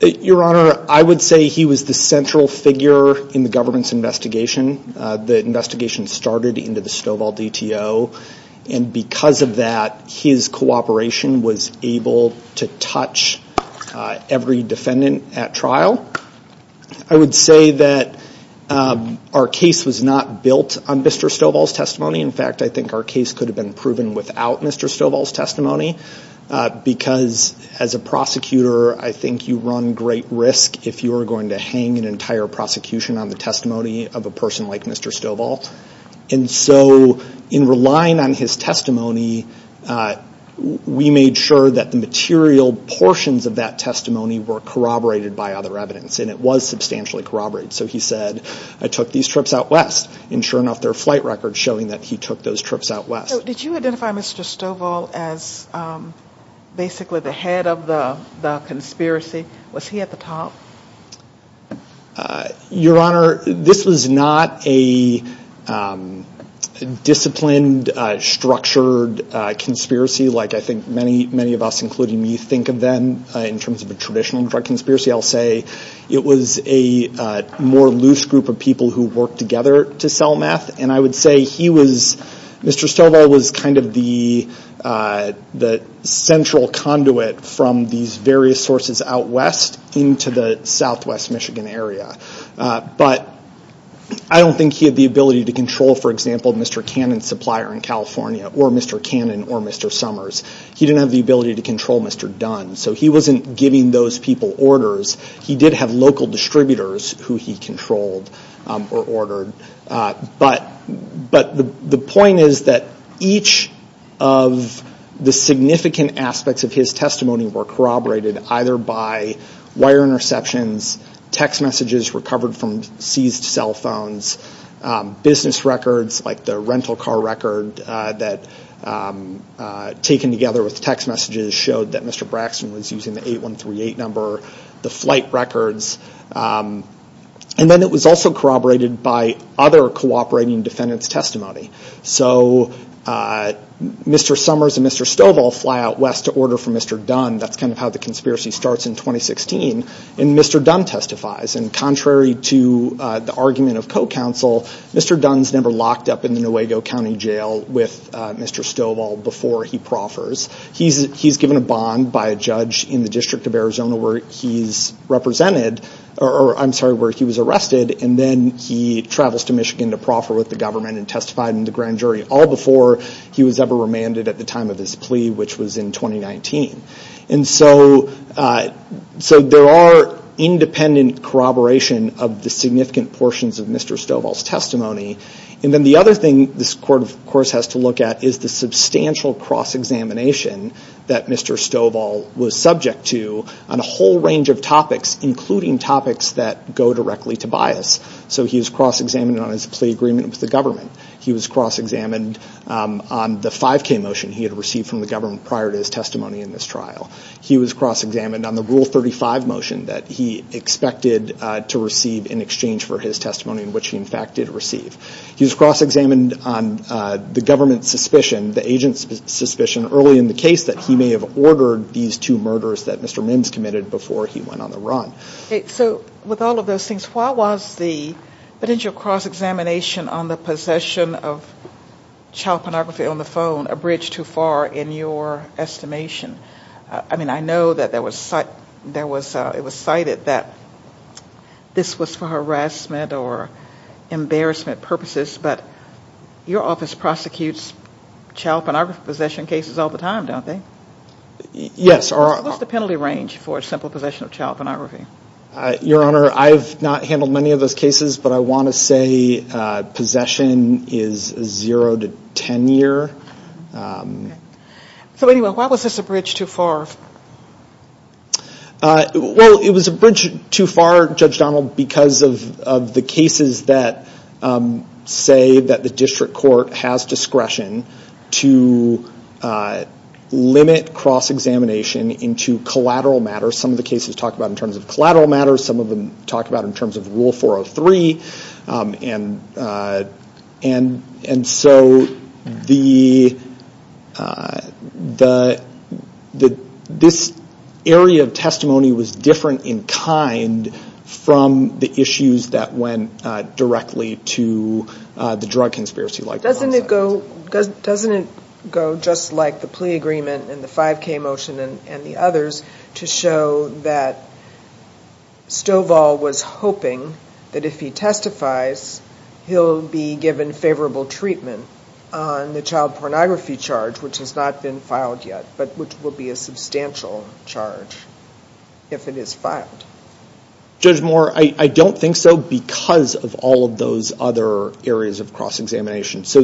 Your Honor, I would say he was the central figure in the government's investigation. The investigation started into the Stovall DTO, and because of that, his cooperation was able to touch every defendant at trial. I would say that our case was not built on Mr. Stovall's testimony. In fact, I think our case could have been proven without Mr. Stovall's testimony, because as a prosecutor, I think you run great risk if you were going to hang an entire prosecution on the testimony of a person like Mr. Stovall. And so in relying on his testimony, we made sure that the material portions of that testimony were corroborated by other evidence, and it was substantially corroborated. So he said, I took these trips out west, and sure enough, there are flight records showing that he took those trips out west. So did you identify Mr. Stovall as basically the head of the conspiracy? Was he at the top? Your Honor, this is not a disciplined, structured conspiracy like I think many of us, including me, think of them in terms of a traditional drug conspiracy. I'll say it was a more loose group of people who worked together to sell meth, and I would say Mr. Stovall was kind of the central conduit from these various sources out west into the southwest Michigan area. But I don't think he had the ability to control, for example, Mr. Cannon's supplier in California or Mr. Cannon or Mr. Summers. He didn't have the ability to control Mr. Dunn, so he wasn't giving those people orders. He did have local distributors who he controlled or ordered. But the point is that each of the significant aspects of his testimony were corroborated either by wire interceptions, text messages recovered from seized cell phones, business records like the rental car record that, taken together with text messages, showed that Mr. Braxton was using the 8138 number, the flight records. And then it was also corroborated by other cooperating defendants' testimony. So Mr. Summers and Mr. Stovall fly out west to order from Mr. Dunn. That's kind of how the conspiracy starts in 2016, and Mr. Dunn testifies. And contrary to the argument of co-counsel, Mr. Dunn's never locked up in the Nuevo County Jail with Mr. Stovall before he proffers. He's given a bond by a judge in the District of Arizona where he's represented, or I'm sorry, where he was arrested, and then he travels to Michigan to proffer with the government and testify in the grand jury all before he was ever remanded at the time of his plea, which was in 2019. And so there are independent corroboration of the significant portions of Mr. Stovall's testimony. And then the other thing this court, of course, has to look at is the substantial cross-examination that Mr. Stovall was subject to on a whole range of topics, including topics that go directly to bias. So he was cross-examined on his plea agreement with the government. He was cross-examined on the 5K motion he had received from the government prior to his testimony in this trial. He was cross-examined on the Rule 35 motion that he expected to receive in exchange for his testimony, which he, in fact, did receive. He was cross-examined on the government's suspicion, the agent's suspicion, early in the case that he may have ordered these two murders that Mr. Mims committed before he went on the run. So with all of those things, why was the potential cross-examination on the possession of child pornography on the phone a bridge too far in your estimation? I mean, I know that it was cited that this was for harassment or embarrassment purposes, but your office prosecutes child pornography possession cases all the time, don't they? Yes. What's the penalty range for simple possession of child pornography? Your Honor, I have not handled many of those cases, but I want to say possession is a zero to ten year. So anyway, why was this a bridge too far? Well, it was a bridge too far, Judge Donald, because of the cases that say that the district court has discretion to limit cross-examination into collateral matters. Some of the cases talk about it in terms of collateral matters. Some of them talk about it in terms of Rule 403. And so this area of testimony was different in kind from the issues that went directly to the drug conspiracy. Doesn't it go just like the plea agreement and the 5K motion and the others to show that Stovall was hoping that if he testifies, he'll be given favorable treatment on the child pornography charge, which has not been filed yet, but which will be a substantial charge if it is filed? Judge Moore, I don't think so because of all of those other areas of cross-examination. So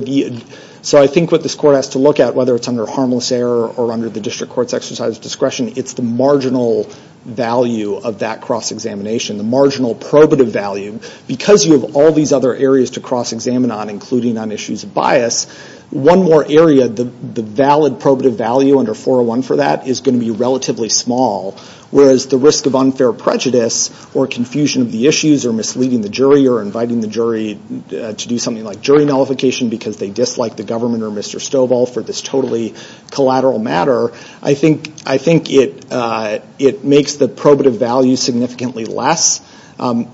I think what this court has to look at, whether it's under harmless error or under the district court's exercise of discretion, it's the marginal value of that cross-examination, the marginal probative value. Because you have all these other areas to cross-examine on, including on issues of bias, one more area, the valid probative value under 401 for that is going to be relatively small, whereas the risk of unfair prejudice or confusion of the issues or misleading the jury or inviting the jury to do something like jury nullification because they dislike the government or Mr. Stovall for this totally collateral matter, I think it makes the probative value significantly less,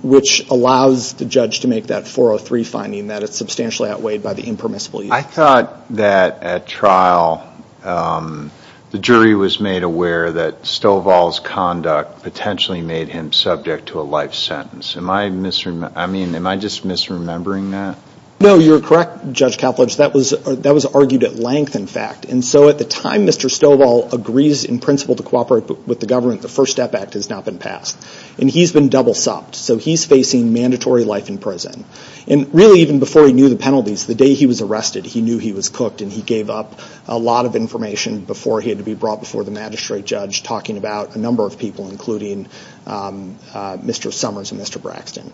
which allows the judge to make that 403 finding that it's substantially outweighed by the impermissible use. I thought that at trial, the jury was made aware that Stovall's conduct potentially made him subject to a life sentence. Am I just misremembering that? No, you're correct, Judge Koplewicz. That was argued at length, in fact. And so at the time Mr. Stovall agrees in principle to cooperate with the government, the First Step Act has not been passed. And he's been double-sopped, so he's facing mandatory life in prison. And really, even before he knew the penalties, the day he was arrested, he knew he was cooked and he gave up a lot of information before he had to be brought before the magistrate judge, talking about a number of people, including Mr. Summers and Mr. Braxton.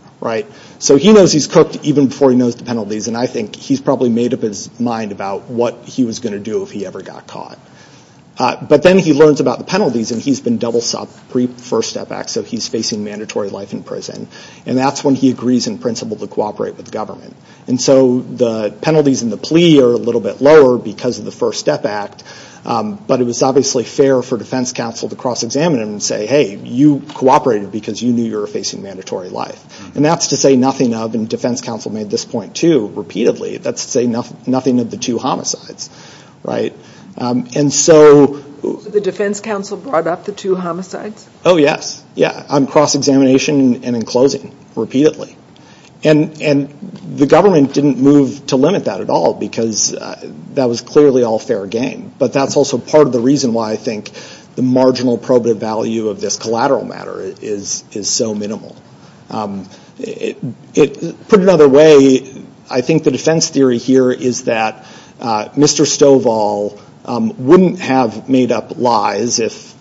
So he knows he's cooked even before he knows the penalties, and I think he's probably made up his mind about what he was going to do if he ever got caught. But then he learns about the penalties, and he's been double-sopped pre-First Step Act, so he's facing mandatory life in prison. And that's when he agrees in principle to cooperate with the government. And so the penalties and the plea are a little bit lower because of the First Step Act, but it was obviously fair for defense counsel to cross-examine him and say, hey, you cooperated because you knew you were facing mandatory life. And that's to say nothing of, and defense counsel made this point too, repeatedly, that's to say nothing of the two homicides. The defense counsel brought up the two homicides? Oh, yes. Yeah, on cross-examination and in closing, repeatedly. And the government didn't move to limit that at all because that was clearly all fair game. But that's also part of the reason why I think the marginal probative value of this collateral matter is so minimal. Put another way, I think the defense theory here is that Mr. Stovall wouldn't have made up lies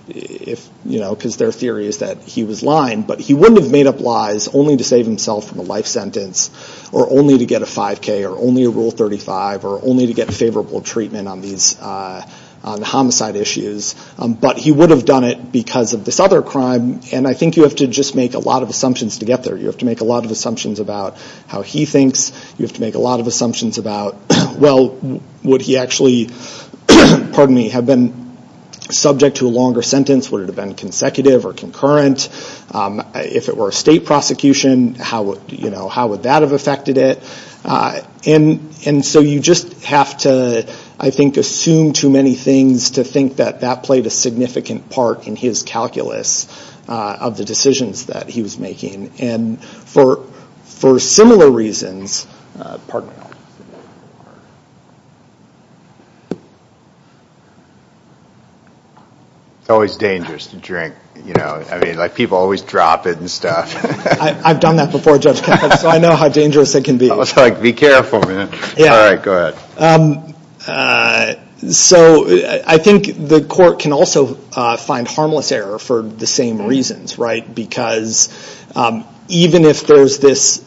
because their theory is that he was lying, but he wouldn't have made up lies only to save himself from a life sentence or only to get a 5K or only a Rule 35 or only to get favorable treatment on homicide issues, but he would have done it because of this other crime. And I think you have to just make a lot of assumptions to get there. You have to make a lot of assumptions about how he thinks. You have to make a lot of assumptions about, well, would he actually, pardon me, have been subject to a longer sentence? Would it have been consecutive or concurrent? If it were a state prosecution, how would that have affected it? And so you just have to, I think, assume too many things to think that that played a significant part in his calculus of the decisions that he was making. And for similar reasons, pardon me. It's always dangerous to drink. I mean, people always drop it and stuff. I've done that before, Judge Krupp, so I know how dangerous it can be. Be careful, man. All right, go ahead. So I think the court can also find harmless error for the same reasons, right? Because even if there's this,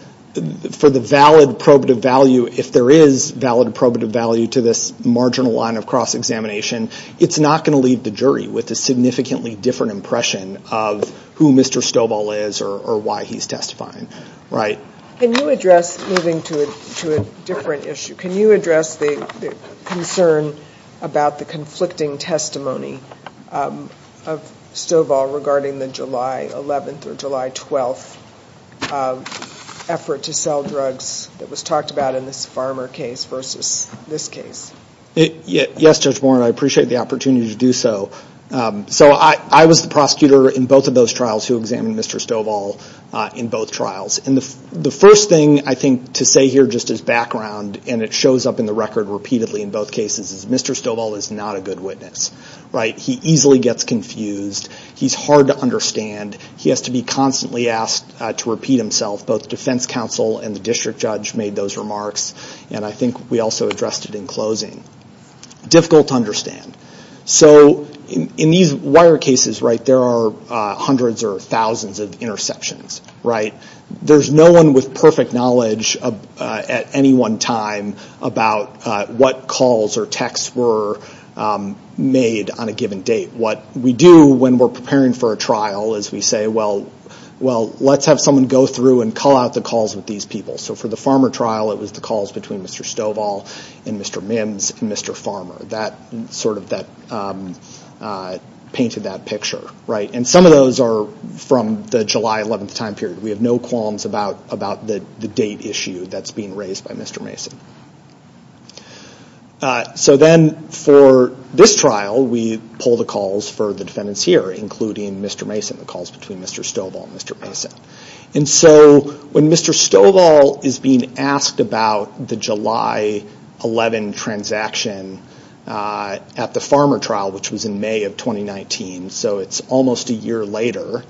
for the valid probative value, if there is valid probative value to this marginal line of cross-examination, it's not going to leave the jury with a significantly different impression of who Mr. Stoball is or why he's testifying, right? Can you address, moving to a different issue, can you address the concern about the conflicting testimony of Stoball regarding the July 11th or July 12th effort to sell drugs that was talked about in this Farmer case versus this case? Yes, Judge Warren, I appreciate the opportunity to do so. So I was the prosecutor in both of those trials who examined Mr. Stoball in both trials. And the first thing I think to say here just as background, and it shows up in the record repeatedly in both cases, is Mr. Stoball is not a good witness, right? He easily gets confused. He's hard to understand. He has to be constantly asked to repeat himself. Both defense counsel and the district judge made those remarks, and I think we also addressed it in closing. Difficult to understand. So in these wire cases, right, there are hundreds or thousands of interceptions, right? There's no one with perfect knowledge at any one time about what calls or texts were made on a given date. What we do when we're preparing for a trial is we say, well, let's have someone go through and call out the calls of these people. So for the Farmer trial, it was the calls between Mr. Stoball and Mr. Mims and Mr. Farmer. That sort of painted that picture, right? And some of those are from the July 11th time period. We have no qualms about the date issue that's being raised by Mr. Mason. So then for this trial, we pull the calls for the defendants here, including Mr. Mason, the calls between Mr. Stoball and Mr. Mason. And so when Mr. Stoball is being asked about the July 11th transaction at the Farmer trial, which was in May of 2019, so it's almost a year later,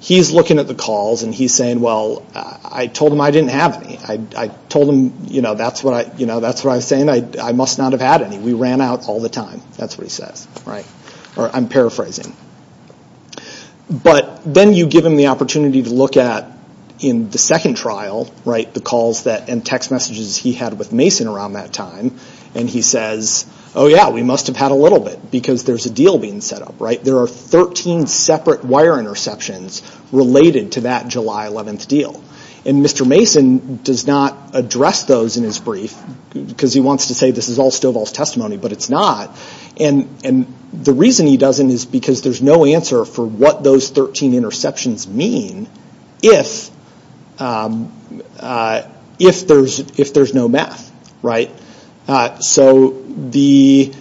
he's looking at the calls and he's saying, well, I told him I didn't have any. I told him, you know, that's what I'm saying. I must not have had any. We ran out all the time. That's what he said, right? Or I'm paraphrasing. But then you give him the opportunity to look at in the second trial, right, the calls and text messages he had with Mason around that time, and he says, oh, yeah, we must have had a little bit because there's a deal being set up, right? There are 13 separate wire interceptions related to that July 11th deal. And Mr. Mason does not address those in his brief because he wants to say this is all Stoball's testimony, but it's not. And the reason he doesn't is because there's no answer for what those 13 interceptions mean if there's no math, right? So the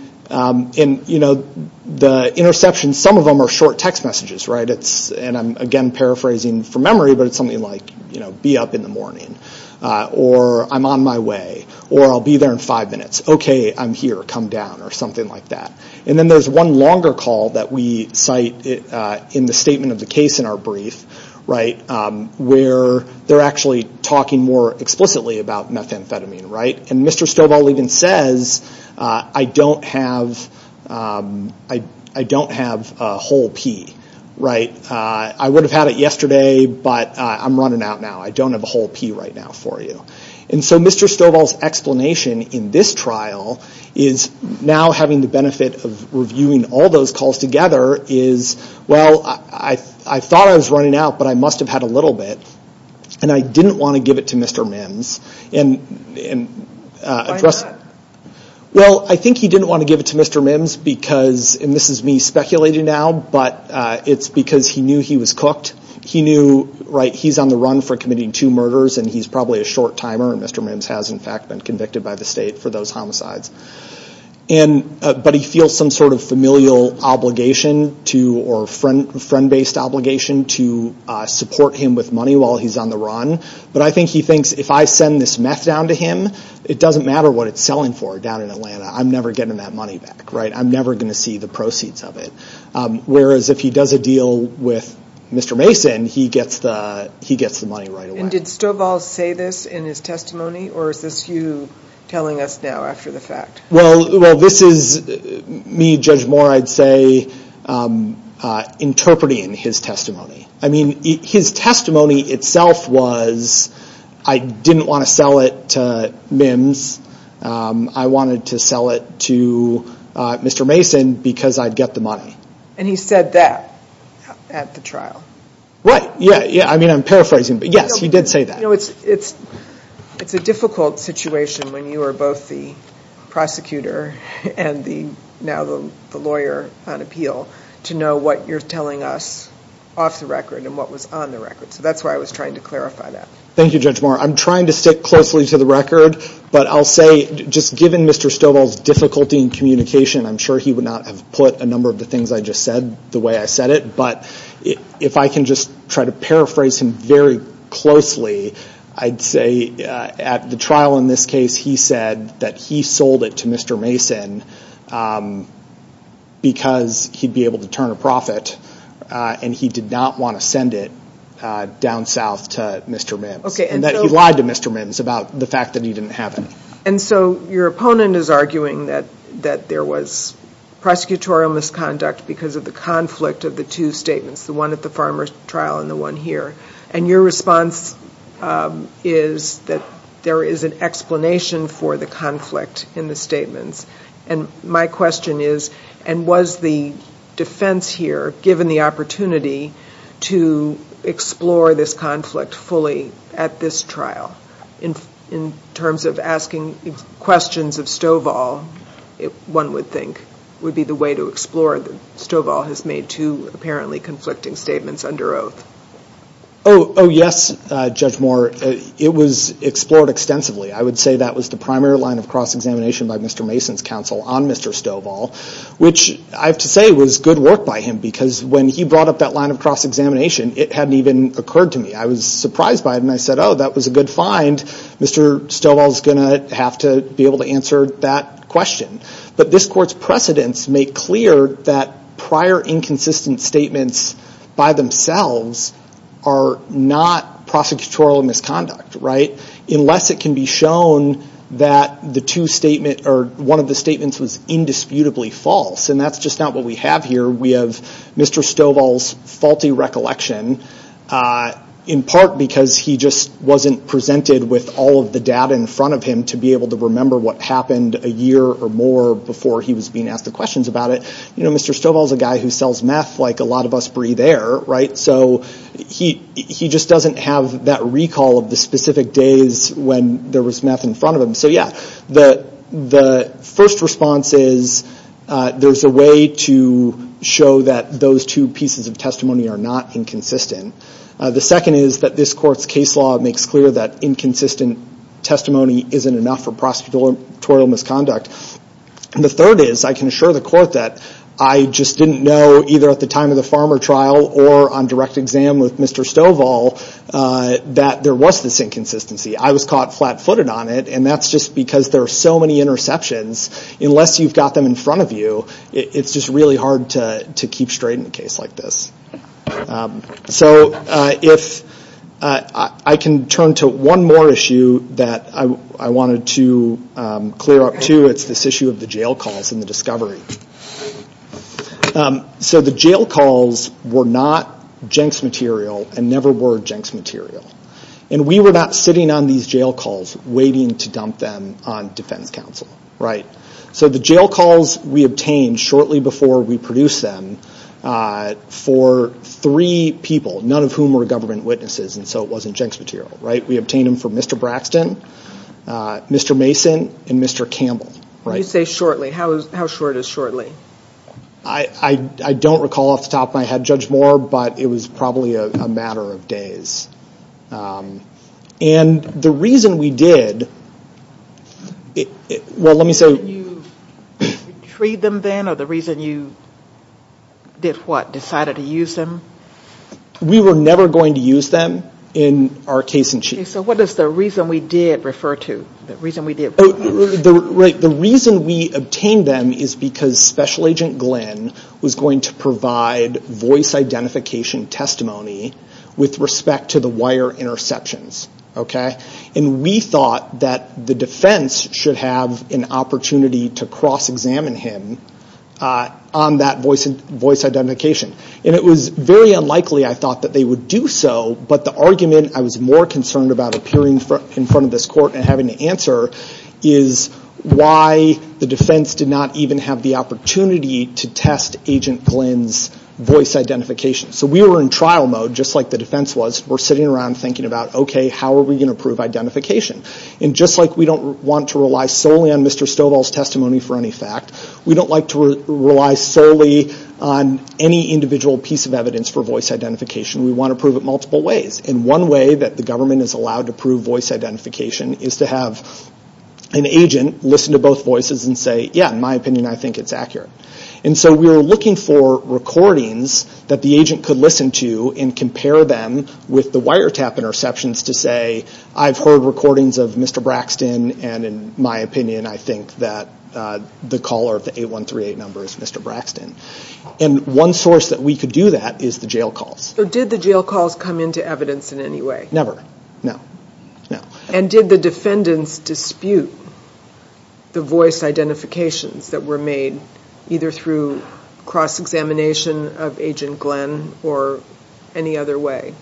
interceptions, some of them are short text messages, right? And I'm, again, paraphrasing from memory, but it's something like, you know, be up in the morning, or I'm on my way, or I'll be there in five minutes. Okay, I'm here. Come down, or something like that. And then there's one longer call that we cite in the statement of the case in our brief, right, where they're actually talking more explicitly about methamphetamine, right? And Mr. Stoball even says, I don't have a whole pee, right? I would have had it yesterday, but I'm running out now. I don't have a whole pee right now for you. And so Mr. Stoball's explanation in this trial is now having the benefit of reviewing all those calls together is, well, I thought I was running out, but I must have had a little bit, and I didn't want to give it to Mr. Mims. Why is that? Well, I think he didn't want to give it to Mr. Mims because, and this is me speculating now, but it's because he knew he was cooked. He knew, right, he's on the run for committing two murders, and he's probably a short timer, and Mr. Mims has, in fact, been convicted by the state for those homicides. But he feels some sort of familial obligation to, or friend-based obligation, to support him with money while he's on the run. But I think he thinks, if I send this mess down to him, it doesn't matter what it's selling for down in Atlanta. I'm never getting that money back, right? I'm never going to see the proceeds of it. Whereas if he does a deal with Mr. Mason, he gets the money right away. And did Stovall say this in his testimony, or is this you telling us now after the fact? Well, this is me, Judge Moore, I'd say, interpreting his testimony. I mean, his testimony itself was, I didn't want to sell it to Mims. I wanted to sell it to Mr. Mason because I'd get the money. And he said that at the trial. Right, yeah, I mean, I'm paraphrasing, but yes, he did say that. It's a difficult situation when you are both the prosecutor and now the lawyer on appeal to know what you're telling us off the record and what was on the record. So that's why I was trying to clarify that. Thank you, Judge Moore. I'm trying to stick closely to the record. But I'll say, just given Mr. Stovall's difficulty in communication, I'm sure he would not have put a number of the things I just said the way I said it. But if I can just try to paraphrase him very closely, I'd say at the trial in this case, he said that he sold it to Mr. Mason because he'd be able to turn a profit and he did not want to send it down south to Mr. Mims. And that lied to Mr. Mims about the fact that he didn't have it. And so your opponent is arguing that there was prosecutorial misconduct because of the conflict of the two statements, the one at the farmer's trial and the one here. And your response is that there is an explanation for the conflict in the statement. And my question is, and was the defense here given the opportunity to explore this conflict fully at this trial in terms of asking questions of Stovall, one would think, would be the way to explore them. Stovall has made two apparently conflicting statements under oath. Oh, yes, Judge Moore. It was explored extensively. I would say that was the primary line of cross-examination by Mr. Mason's counsel on Mr. Stovall, which I have to say was good work by him because when he brought up that line of cross-examination, it hadn't even occurred to me. I was surprised by him. I said, oh, that was a good find. Mr. Stovall is going to have to be able to answer that question. But this court's precedents make clear that prior inconsistent statements by themselves are not prosecutorial misconduct, right, unless it can be shown that the two statements or one of the statements is indisputably false. And that's just not what we have here. We have Mr. Stovall's faulty recollection, in part because he just wasn't presented with all of the data in front of him to be able to remember what happened a year or more before he was being asked the questions about it. You know, Mr. Stovall is a guy who sells meth like a lot of us breathe air, right? So he just doesn't have that recall of the specific days when there was meth in front of him. So, yeah, the first response is there's a way to show that those two pieces of testimony are not inconsistent. The second is that this court's case law makes clear that inconsistent testimony isn't enough for prosecutorial misconduct. And the third is I can assure the court that I just didn't know either at the time of the Farmer trial or on direct exam with Mr. Stovall that there was this inconsistency. I was caught flat-footed on it, and that's just because there are so many interceptions. Unless you've got them in front of you, it's just really hard to keep straight in a case like this. So I can turn to one more issue that I wanted to clear up, too. It's this issue of the jail calls and the discovery. So the jail calls were not Jenks material and never were Jenks material. And we were not sitting on these jail calls waiting to dump them on defense counsel, right? So the jail calls we obtained shortly before we produced them for three people, none of whom were government witnesses, and so it wasn't Jenks material, right? We obtained them for Mr. Braxton, Mr. Mason, and Mr. Campbell. You say shortly. How short is shortly? I don't recall off the top of my head Judge Moore, but it was probably a matter of days. And the reason we did... Did you retrieve them then, or the reason you decided to use them? We were never going to use them in our case in Chief. So what does the reason we did refer to? The reason we obtained them is because Special Agent Glenn was going to provide voice identification testimony with respect to the wire interceptions, okay? And we thought that the defense should have an opportunity to cross-examine him on that voice identification. And it was very unlikely, I thought, that they would do so, but the argument I was more concerned about appearing in front of this court and having to answer is why the defense did not even have the opportunity to test Agent Glenn's voice identification. So we were in trial mode, just like the defense was. We're sitting around thinking about, okay, how are we going to prove identification? And just like we don't want to rely solely on Mr. Stovall's testimony for any fact, we don't like to rely solely on any individual piece of evidence for voice identification. We want to prove it multiple ways. And one way that the government is allowed to prove voice identification is to have an agent listen to both voices and say, yeah, in my opinion, I think it's accurate. And so we were looking for recordings that the agent could listen to and compare them with the wiretap interceptions to say, I've heard recordings of Mr. Braxton, and in my opinion, I think that the caller of the 8138 number is Mr. Braxton. And one source that we could do that is the jail calls. So did the jail calls come into evidence in any way? Never. No. No. And did the defendants dispute the voice identifications that were made, either through cross-examination of Agent Glenn or any other way?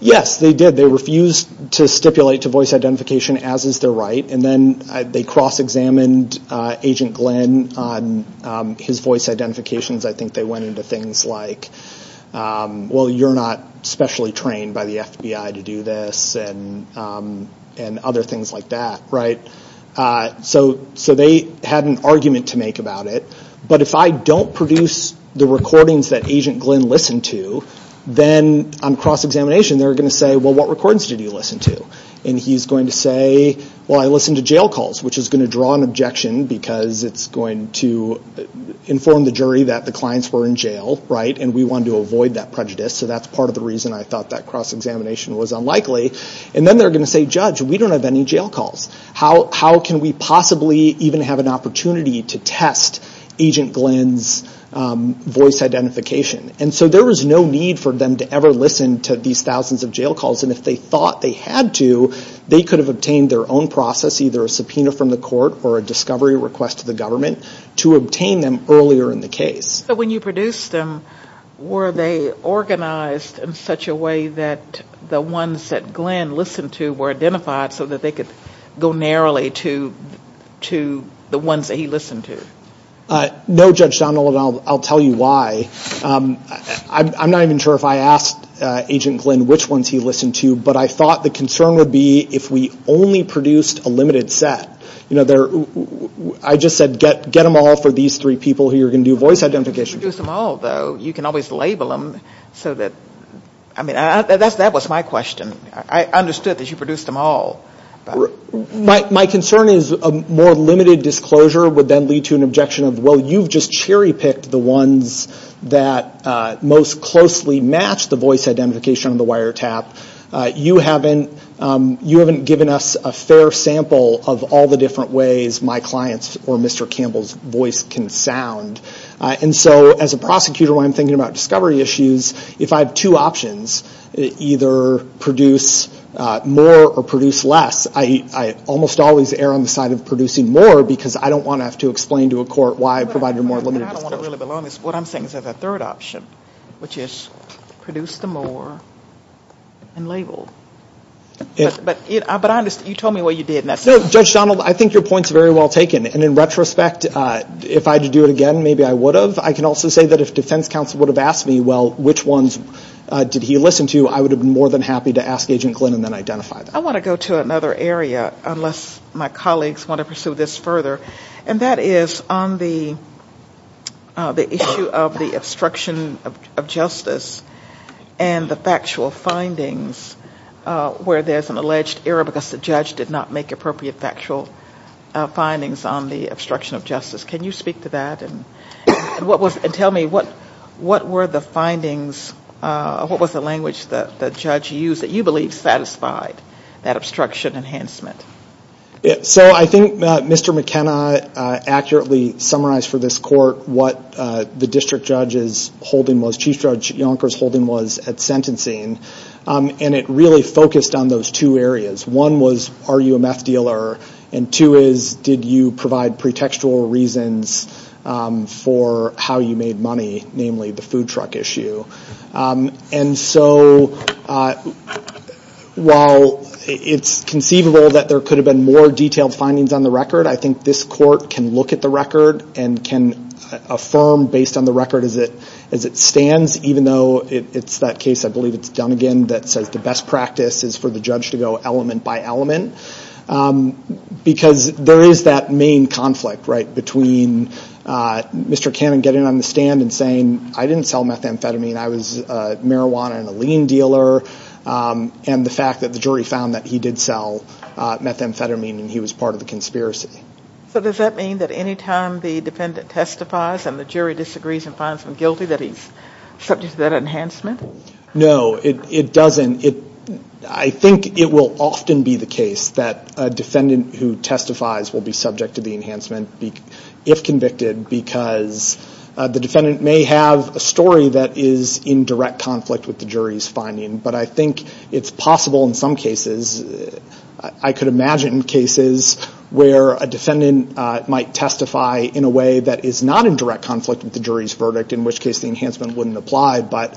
Yes, they did. They refused to stipulate to voice identification as is their right, and then they cross-examined Agent Glenn on his voice identifications. I think they went into things like, well, you're not specially trained by the FBI to do this and other things like that, right? So they had an argument to make about it. But if I don't produce the recordings that Agent Glenn listened to, then on cross-examination they're going to say, well, what recordings did you listen to? And he's going to say, well, I listened to jail calls, which is going to draw an objection because it's going to inform the jury that the clients were in jail, right, and we wanted to avoid that prejudice. So that's part of the reason I thought that cross-examination was unlikely. And then they're going to say, judge, we don't have any jail calls. How can we possibly even have an opportunity to test Agent Glenn's voice identification? And so there was no need for them to ever listen to these thousands of jail calls, and if they thought they had to, they could have obtained their own process, either a subpoena from the court or a discovery request to the government, to obtain them earlier in the case. But when you produced them, were they organized in such a way that the ones that Glenn listened to were identified so that they could go narrowly to the ones that he listened to? No, Judge Donovan, I'll tell you why. I'm not even sure if I asked Agent Glenn which ones he listened to, but I thought the concern would be if we only produced a limited set. I just said get them all for these three people who are going to do voice identification. If you produced them all, though, you can always label them. I mean, that was my question. I understood that you produced them all. My concern is a more limited disclosure would then lead to an objection of, well, you've just cherry-picked the ones that most closely match the voice identification on the wiretap. You haven't given us a fair sample of all the different ways my client's or Mr. Campbell's voice can sound. And so as a prosecutor, when I'm thinking about discovery issues, if I have two options, either produce more or produce less, I almost always err on the side of producing more because I don't want to have to explain to a court why I provided a more limited disclosure. What I'm saying is there's a third option, which is produce the more and label. But you told me what you did, and that's it. No, just, John, I think your point's very well taken. And in retrospect, if I had to do it again, maybe I would have. I can also say that if defense counsel would have asked me, well, which ones did he listen to, I would have been more than happy to ask Agent Glenn and then identify them. I want to go to another area, unless my colleagues want to pursue this further, and that is on the issue of the obstruction of justice and the factual findings where there's an alleged error because the judge did not make appropriate factual findings on the obstruction of justice. Can you speak to that and tell me what were the findings, what was the language that the judge used that you believe satisfied that obstruction enhancement? So I think that Mr. McKenna accurately summarized for this court what the district judge's holding was, Chief Judge Yonker's holding was at sentencing, and it really focused on those two areas. One was, are you a meth dealer? And two is, did you provide pretextual reasons for how you made money, namely the food truck issue? And so while it's conceivable that there could have been more detailed findings on the record, I think this court can look at the record and can affirm based on the record as it stands, even though it's that case, I believe it's Dunigan, that the best practice is for the judge to go element by element, because there is that main conflict between Mr. Cannon getting on the stand and saying, I didn't sell methamphetamine, I was a marijuana and a lean dealer, and the fact that the jury found that he did sell methamphetamine and he was part of the conspiracy. So does that mean that any time the defendant testifies and the jury disagrees and finds him guilty that he's subject to that enhancement? No, it doesn't. I think it will often be the case that a defendant who testifies will be subject to the enhancement if convicted, because the defendant may have a story that is in direct conflict with the jury's finding. But I think it's possible in some cases, I could imagine cases, where a defendant might testify in a way that is not in direct conflict with the jury's verdict, in which case the enhancement wouldn't apply. But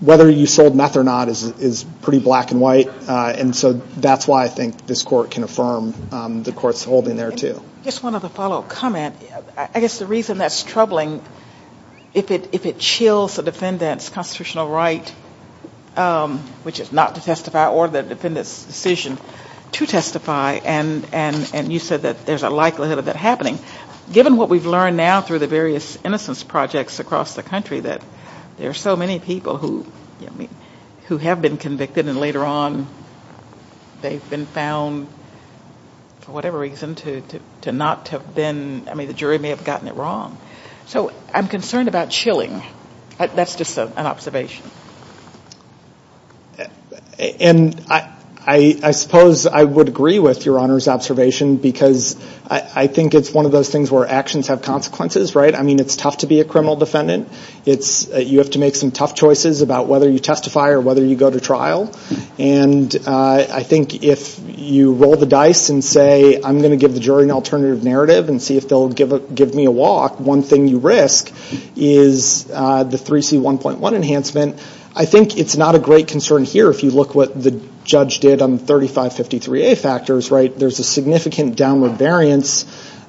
whether you sold meth or not is pretty black and white, and so that's why I think this court can affirm the court's holding there too. Just one other follow-up comment. I guess the reason that's troubling, if it chills the defendant's constitutional right, which is not to testify or the defendant's decision to testify, and you said that there's a likelihood of that happening, given what we've learned now through the various innocence projects across the country, that there are so many people who have been convicted and later on they've been found, for whatever reason, to not have been, I mean the jury may have gotten it wrong. So I'm concerned about chilling. That's just an observation. And I suppose I would agree with Your Honor's observation, because I think it's one of those things where actions have consequences, right? I mean it's tough to be a criminal defendant. You have to make some tough choices about whether you testify or whether you go to trial. And I think if you roll the dice and say, I'm going to give the jury an alternative narrative and see if they'll give me a walk, one thing you risk is the 3C1.1 enhancement. I think it's not a great concern here if you look what the judge did on 3553A factors, right? There's a significant downward variance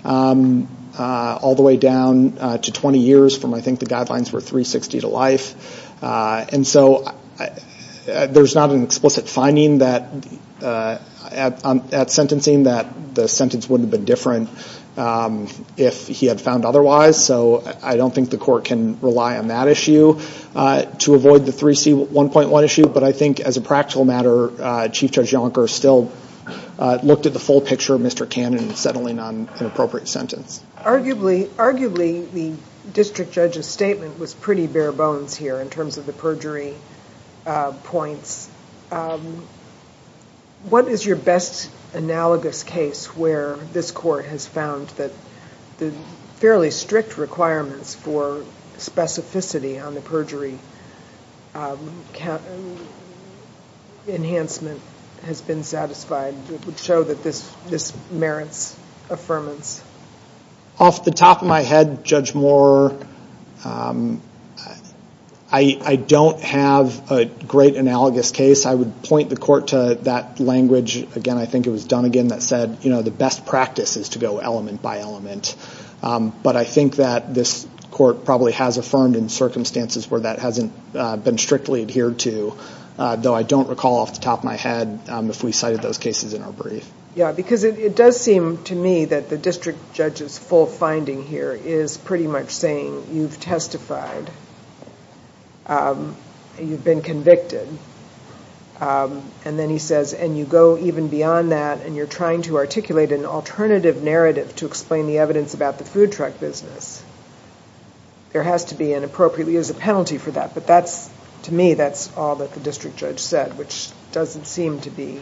all the way down to 20 years from I think the guidelines were 360 to life. And so there's not an explicit finding at sentencing that the sentence wouldn't have been different if he had found otherwise. So I don't think the court can rely on that issue to avoid the 3C1.1 issue. But I think as a practical matter, Chief Judge Yonker still looked at the full picture of Mr. Cannon settling on an appropriate sentence. Arguably, the district judge's statement was pretty bare bones here in terms of the perjury points. What is your best analogous case where this court has found that the fairly strict requirements for specificity on the perjury enhancement has been satisfied? It would show that this merits affirmance. Off the top of my head, Judge Moore, I don't have a great analogous case. I would point the court to that language. Again, I think it was Dunnegan that said, you know, the best practice is to go element by element. But I think that this court probably has affirmed in circumstances where that hasn't been strictly adhered to, though I don't recall off the top of my head if we cited those cases in our brief. Yeah, because it does seem to me that the district judge's full finding here is pretty much saying, you've testified, you've been convicted, and then he says, and you go even beyond that, and you're trying to articulate an alternative narrative to explain the evidence about the food truck business. There has to be an appropriate use of penalty for that. But that's, to me, that's all that the district judge said, which doesn't seem to be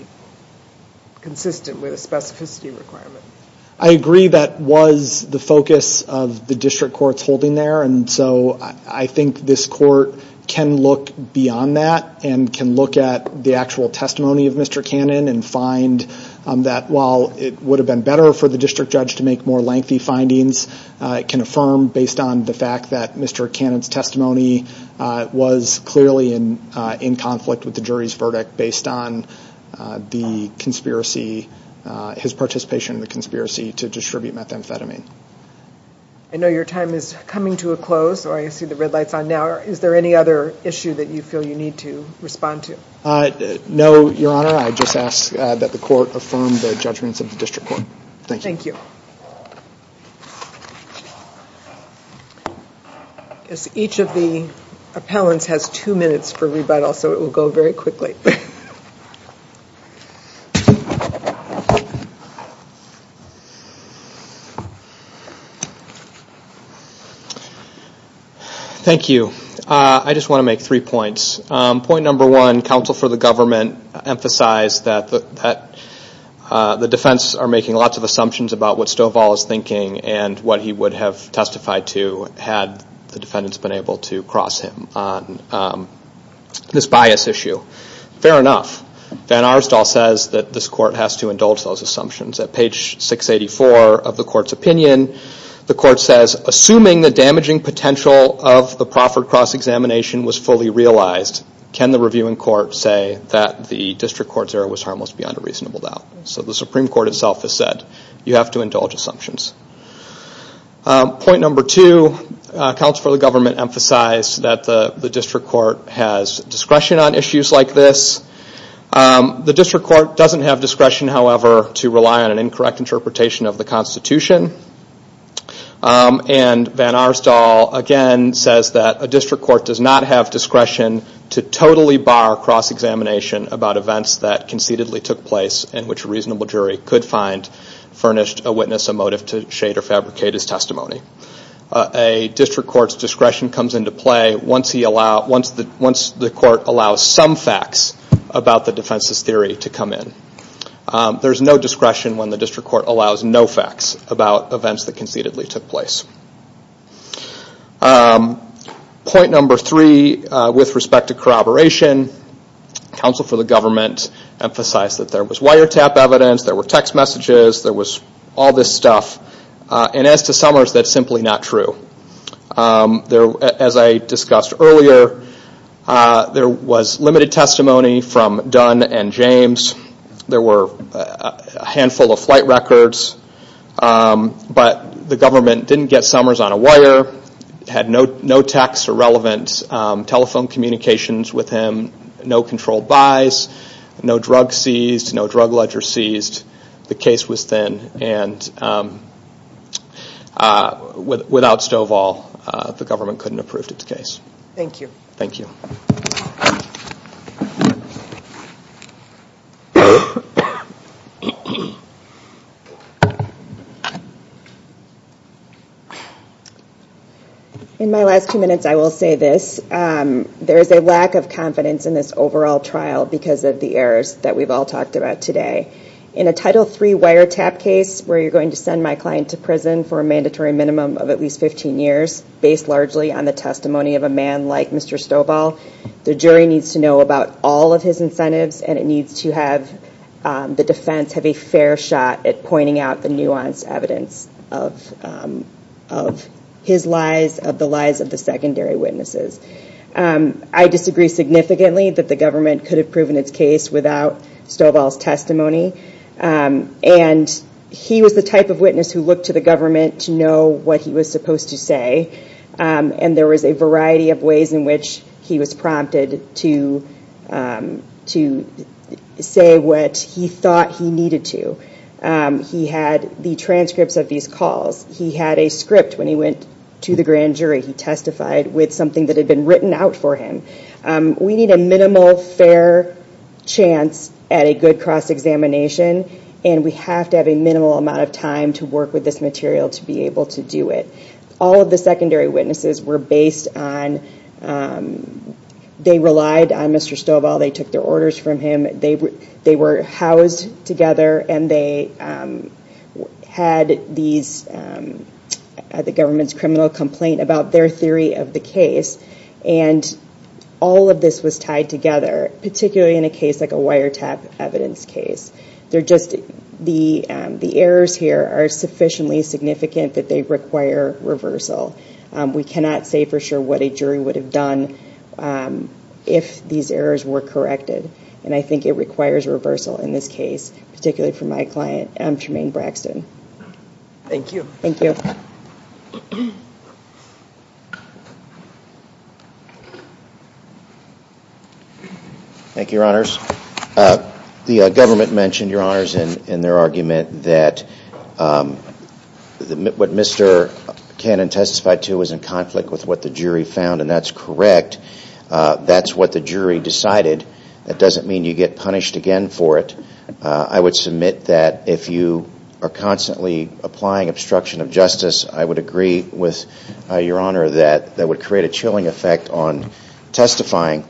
consistent with specificity requirements. I agree that was the focus of the district court's holding there, and so I think this court can look beyond that and can look at the actual testimony of Mr. Cannon and find that while it would have been better for the district judge to make more lengthy findings, it can affirm based on the fact that Mr. Cannon's testimony was clearly in conflict with the jury's verdict based on his participation in the conspiracy to distribute methamphetamine. I know your time is coming to a close, or I see the red light on now. Is there any other issue that you feel you need to respond to? No, Your Honor. I just ask that the court affirm the judgments of the district court. Thank you. Each of the appellants has two minutes for rebuttal, so it will go very quickly. Thank you. I just want to make three points. Point number one, counsel for the government emphasized that the defense are making lots of assumptions about what Stovall is thinking and what he would have testified to had the defendants been able to cross him on this bias issue. Fair enough. Van Aerstal says that this court has to indulge those assumptions. At page 684 of the court's opinion, the court says, Assuming the damaging potential of the Crawford cross-examination was fully realized, can the reviewing court say that the district court's error was harmless beyond a reasonable doubt? The Supreme Court itself has said you have to indulge assumptions. Point number two, counsel for the government emphasized that the district court has discretion on issues like this. The district court doesn't have discretion, however, to rely on an incorrect interpretation of the Constitution. Van Aerstal again says that a district court does not have discretion to totally bar cross-examination about events that concededly took place and which a reasonable jury could find furnished a witness a motive to shade or fabricate his testimony. A district court's discretion comes into play once the court allows some facts about the defense's theory to come in. There's no discretion when the district court allows no facts about events that concededly took place. Point number three, with respect to corroboration, counsel for the government emphasized that there was wiretap evidence, there were text messages, there was all this stuff, and as to Summers, that's simply not true. As I discussed earlier, there was limited testimony from Dunn and James. There were a handful of flight records, but the government didn't get Summers on a wire, had no text or relevant telephone communications with him, no controlled buys, no drug seized, no drug ledger seized, the case was thin, and without Stovall, the government couldn't approve the case. Thank you. In my last few minutes, I will say this. There's a lack of confidence in this overall trial because of the errors that we've all talked about today. In a Title III wiretap case where you're going to send my client to prison for a mandatory minimum of at least 15 years, based largely on the testimony of a man like Mr. Stovall, the jury needs to know about all of his incentives and it needs to have the defense have a fair shot at pointing out the nuanced evidence of his lies, of the lies of the secondary witnesses. I disagree significantly that the government could have proven its case without Stovall's testimony, and he was the type of witness who looked to the government to know what he was supposed to say, and there was a variety of ways in which he was prompted to say what he thought he needed to. He had the transcripts of these calls. He had a script when he went to the grand jury. He testified with something that had been written out for him. We need a minimal, fair chance at a good cross-examination, and we have to have a minimal amount of time to work with this material to be able to do it. All of the secondary witnesses were based on they relied on Mr. Stovall. They took their orders from him. They were housed together, and they had the government's criminal complaint about their theory of the case, and all of this was tied together, particularly in a case like a wiretap evidence case. The errors here are sufficiently significant that they require reversal. We cannot say for sure what a jury would have done if these errors were corrected, and I think it requires reversal in this case, particularly for my client, Jermaine Braxton. Thank you. Thank you. Thank you, Your Honors. The government mentioned, Your Honors, in their argument that what Mr. Cannon testified to was in conflict with what the jury found, and that's correct. That's what the jury decided. That doesn't mean you get punished again for it. I would submit that if you are constantly applying obstruction of justice, I would agree with Your Honor that that would create a chilling effect on testifying.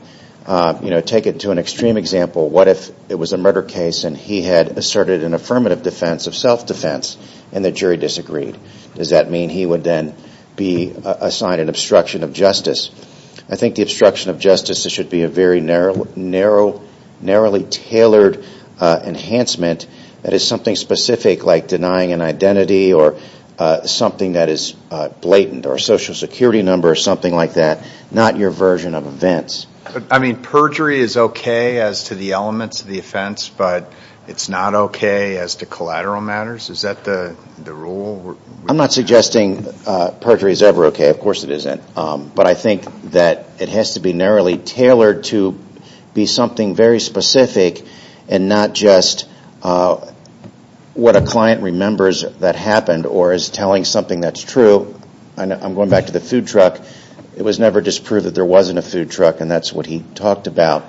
Take it to an extreme example. What if it was a murder case, and he had asserted an affirmative defense of self-defense, and the jury disagreed? Does that mean he would then be assigned an obstruction of justice? I think the obstruction of justice should be a very narrow, narrowly tailored enhancement that is something specific like denying an identity or something that is blatant or a Social Security number or something like that, not your version of events. But, I mean, perjury is okay as to the elements of the offense, but it's not okay as to collateral matters? Is that the rule? I'm not suggesting perjury is ever okay. Of course it isn't. But I think that it has to be narrowly tailored to be something very specific and not just what a client remembers that happened or is telling something that's true. I'm going back to the food truck. It was never just proved that there wasn't a food truck, and that's what he talked about.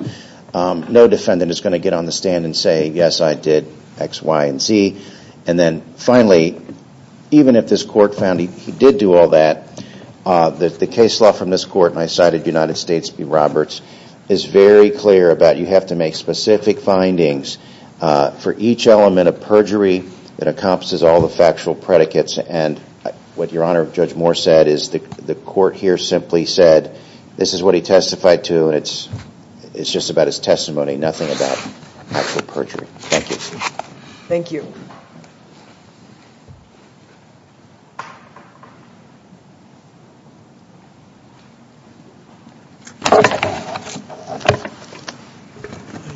No defendant is going to get on the stand and say, yes, I did, X, Y, and Z. And then finally, even if this court found he did do all that, the case law from this court, and I cited United States v. Roberts, is very clear about you have to make specific findings for each element of perjury that encompasses all the factual predicates. And what Your Honor, Judge Moore said is the court here simply said this is what he testified to. It's just about his testimony, nothing about actual perjury. Thank you. Thank you.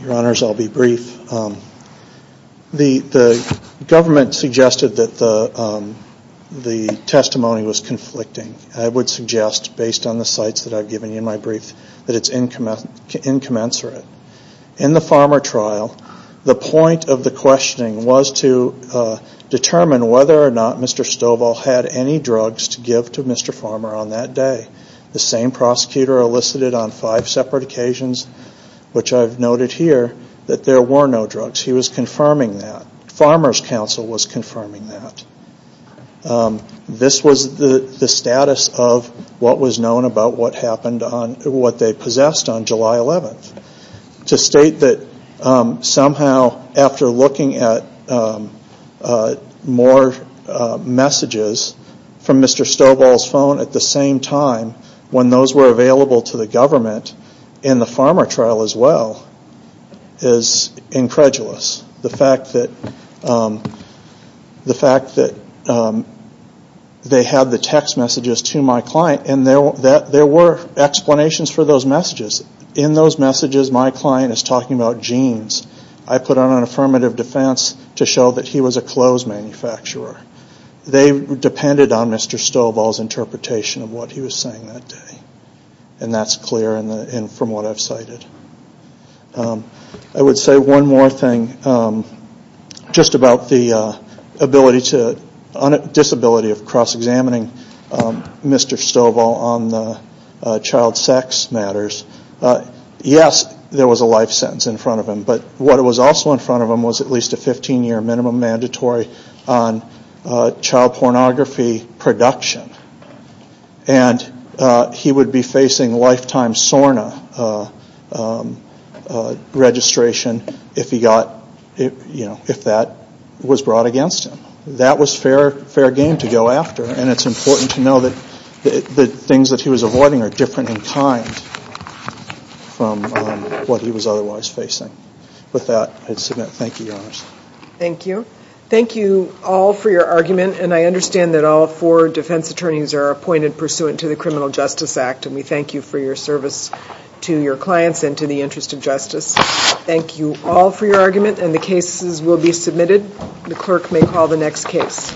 Your Honors, I'll be brief. The government suggested that the testimony was conflicting. I would suggest, based on the sites that I've given you in my brief, that it's incommensurate. In the Farmer trial, the point of the questioning was to determine whether or not Mr. Stovall had any drugs to give to Mr. Farmer on that day. The same prosecutor elicited on five separate occasions, which I've noted here, that there were no drugs. He was confirming that. Farmer's counsel was confirming that. This was the status of what was known about what they possessed on July 11th. To state that somehow, after looking at more messages from Mr. Stovall's phone at the same time, when those were available to the government in the Farmer trial as well, is incredulous. The fact that they had the text messages to my client, and there were explanations for those messages. In those messages, my client is talking about genes. I put out an affirmative defense to show that he was a clothes manufacturer. They depended on Mr. Stovall's interpretation of what he was saying that day. And that's clear from what I've cited. I would say one more thing just about the disability of cross-examining Mr. Stovall on child sex matters. Yes, there was a life sentence in front of him. But what was also in front of him was at least a 15-year minimum mandatory on child pornography production. And he would be facing lifetime SORNA registration if that was brought against him. That was fair game to go after. And it's important to know that the things that he was avoiding are different in time from what he was otherwise facing. With that, thank you, Your Honors. Thank you. Thank you all for your argument. And I understand that all four defense attorneys are appointed pursuant to the Criminal Justice Act. And we thank you for your service to your clients and to the interest of justice. Thank you all for your argument. And the cases will be submitted. The clerk may call the next case.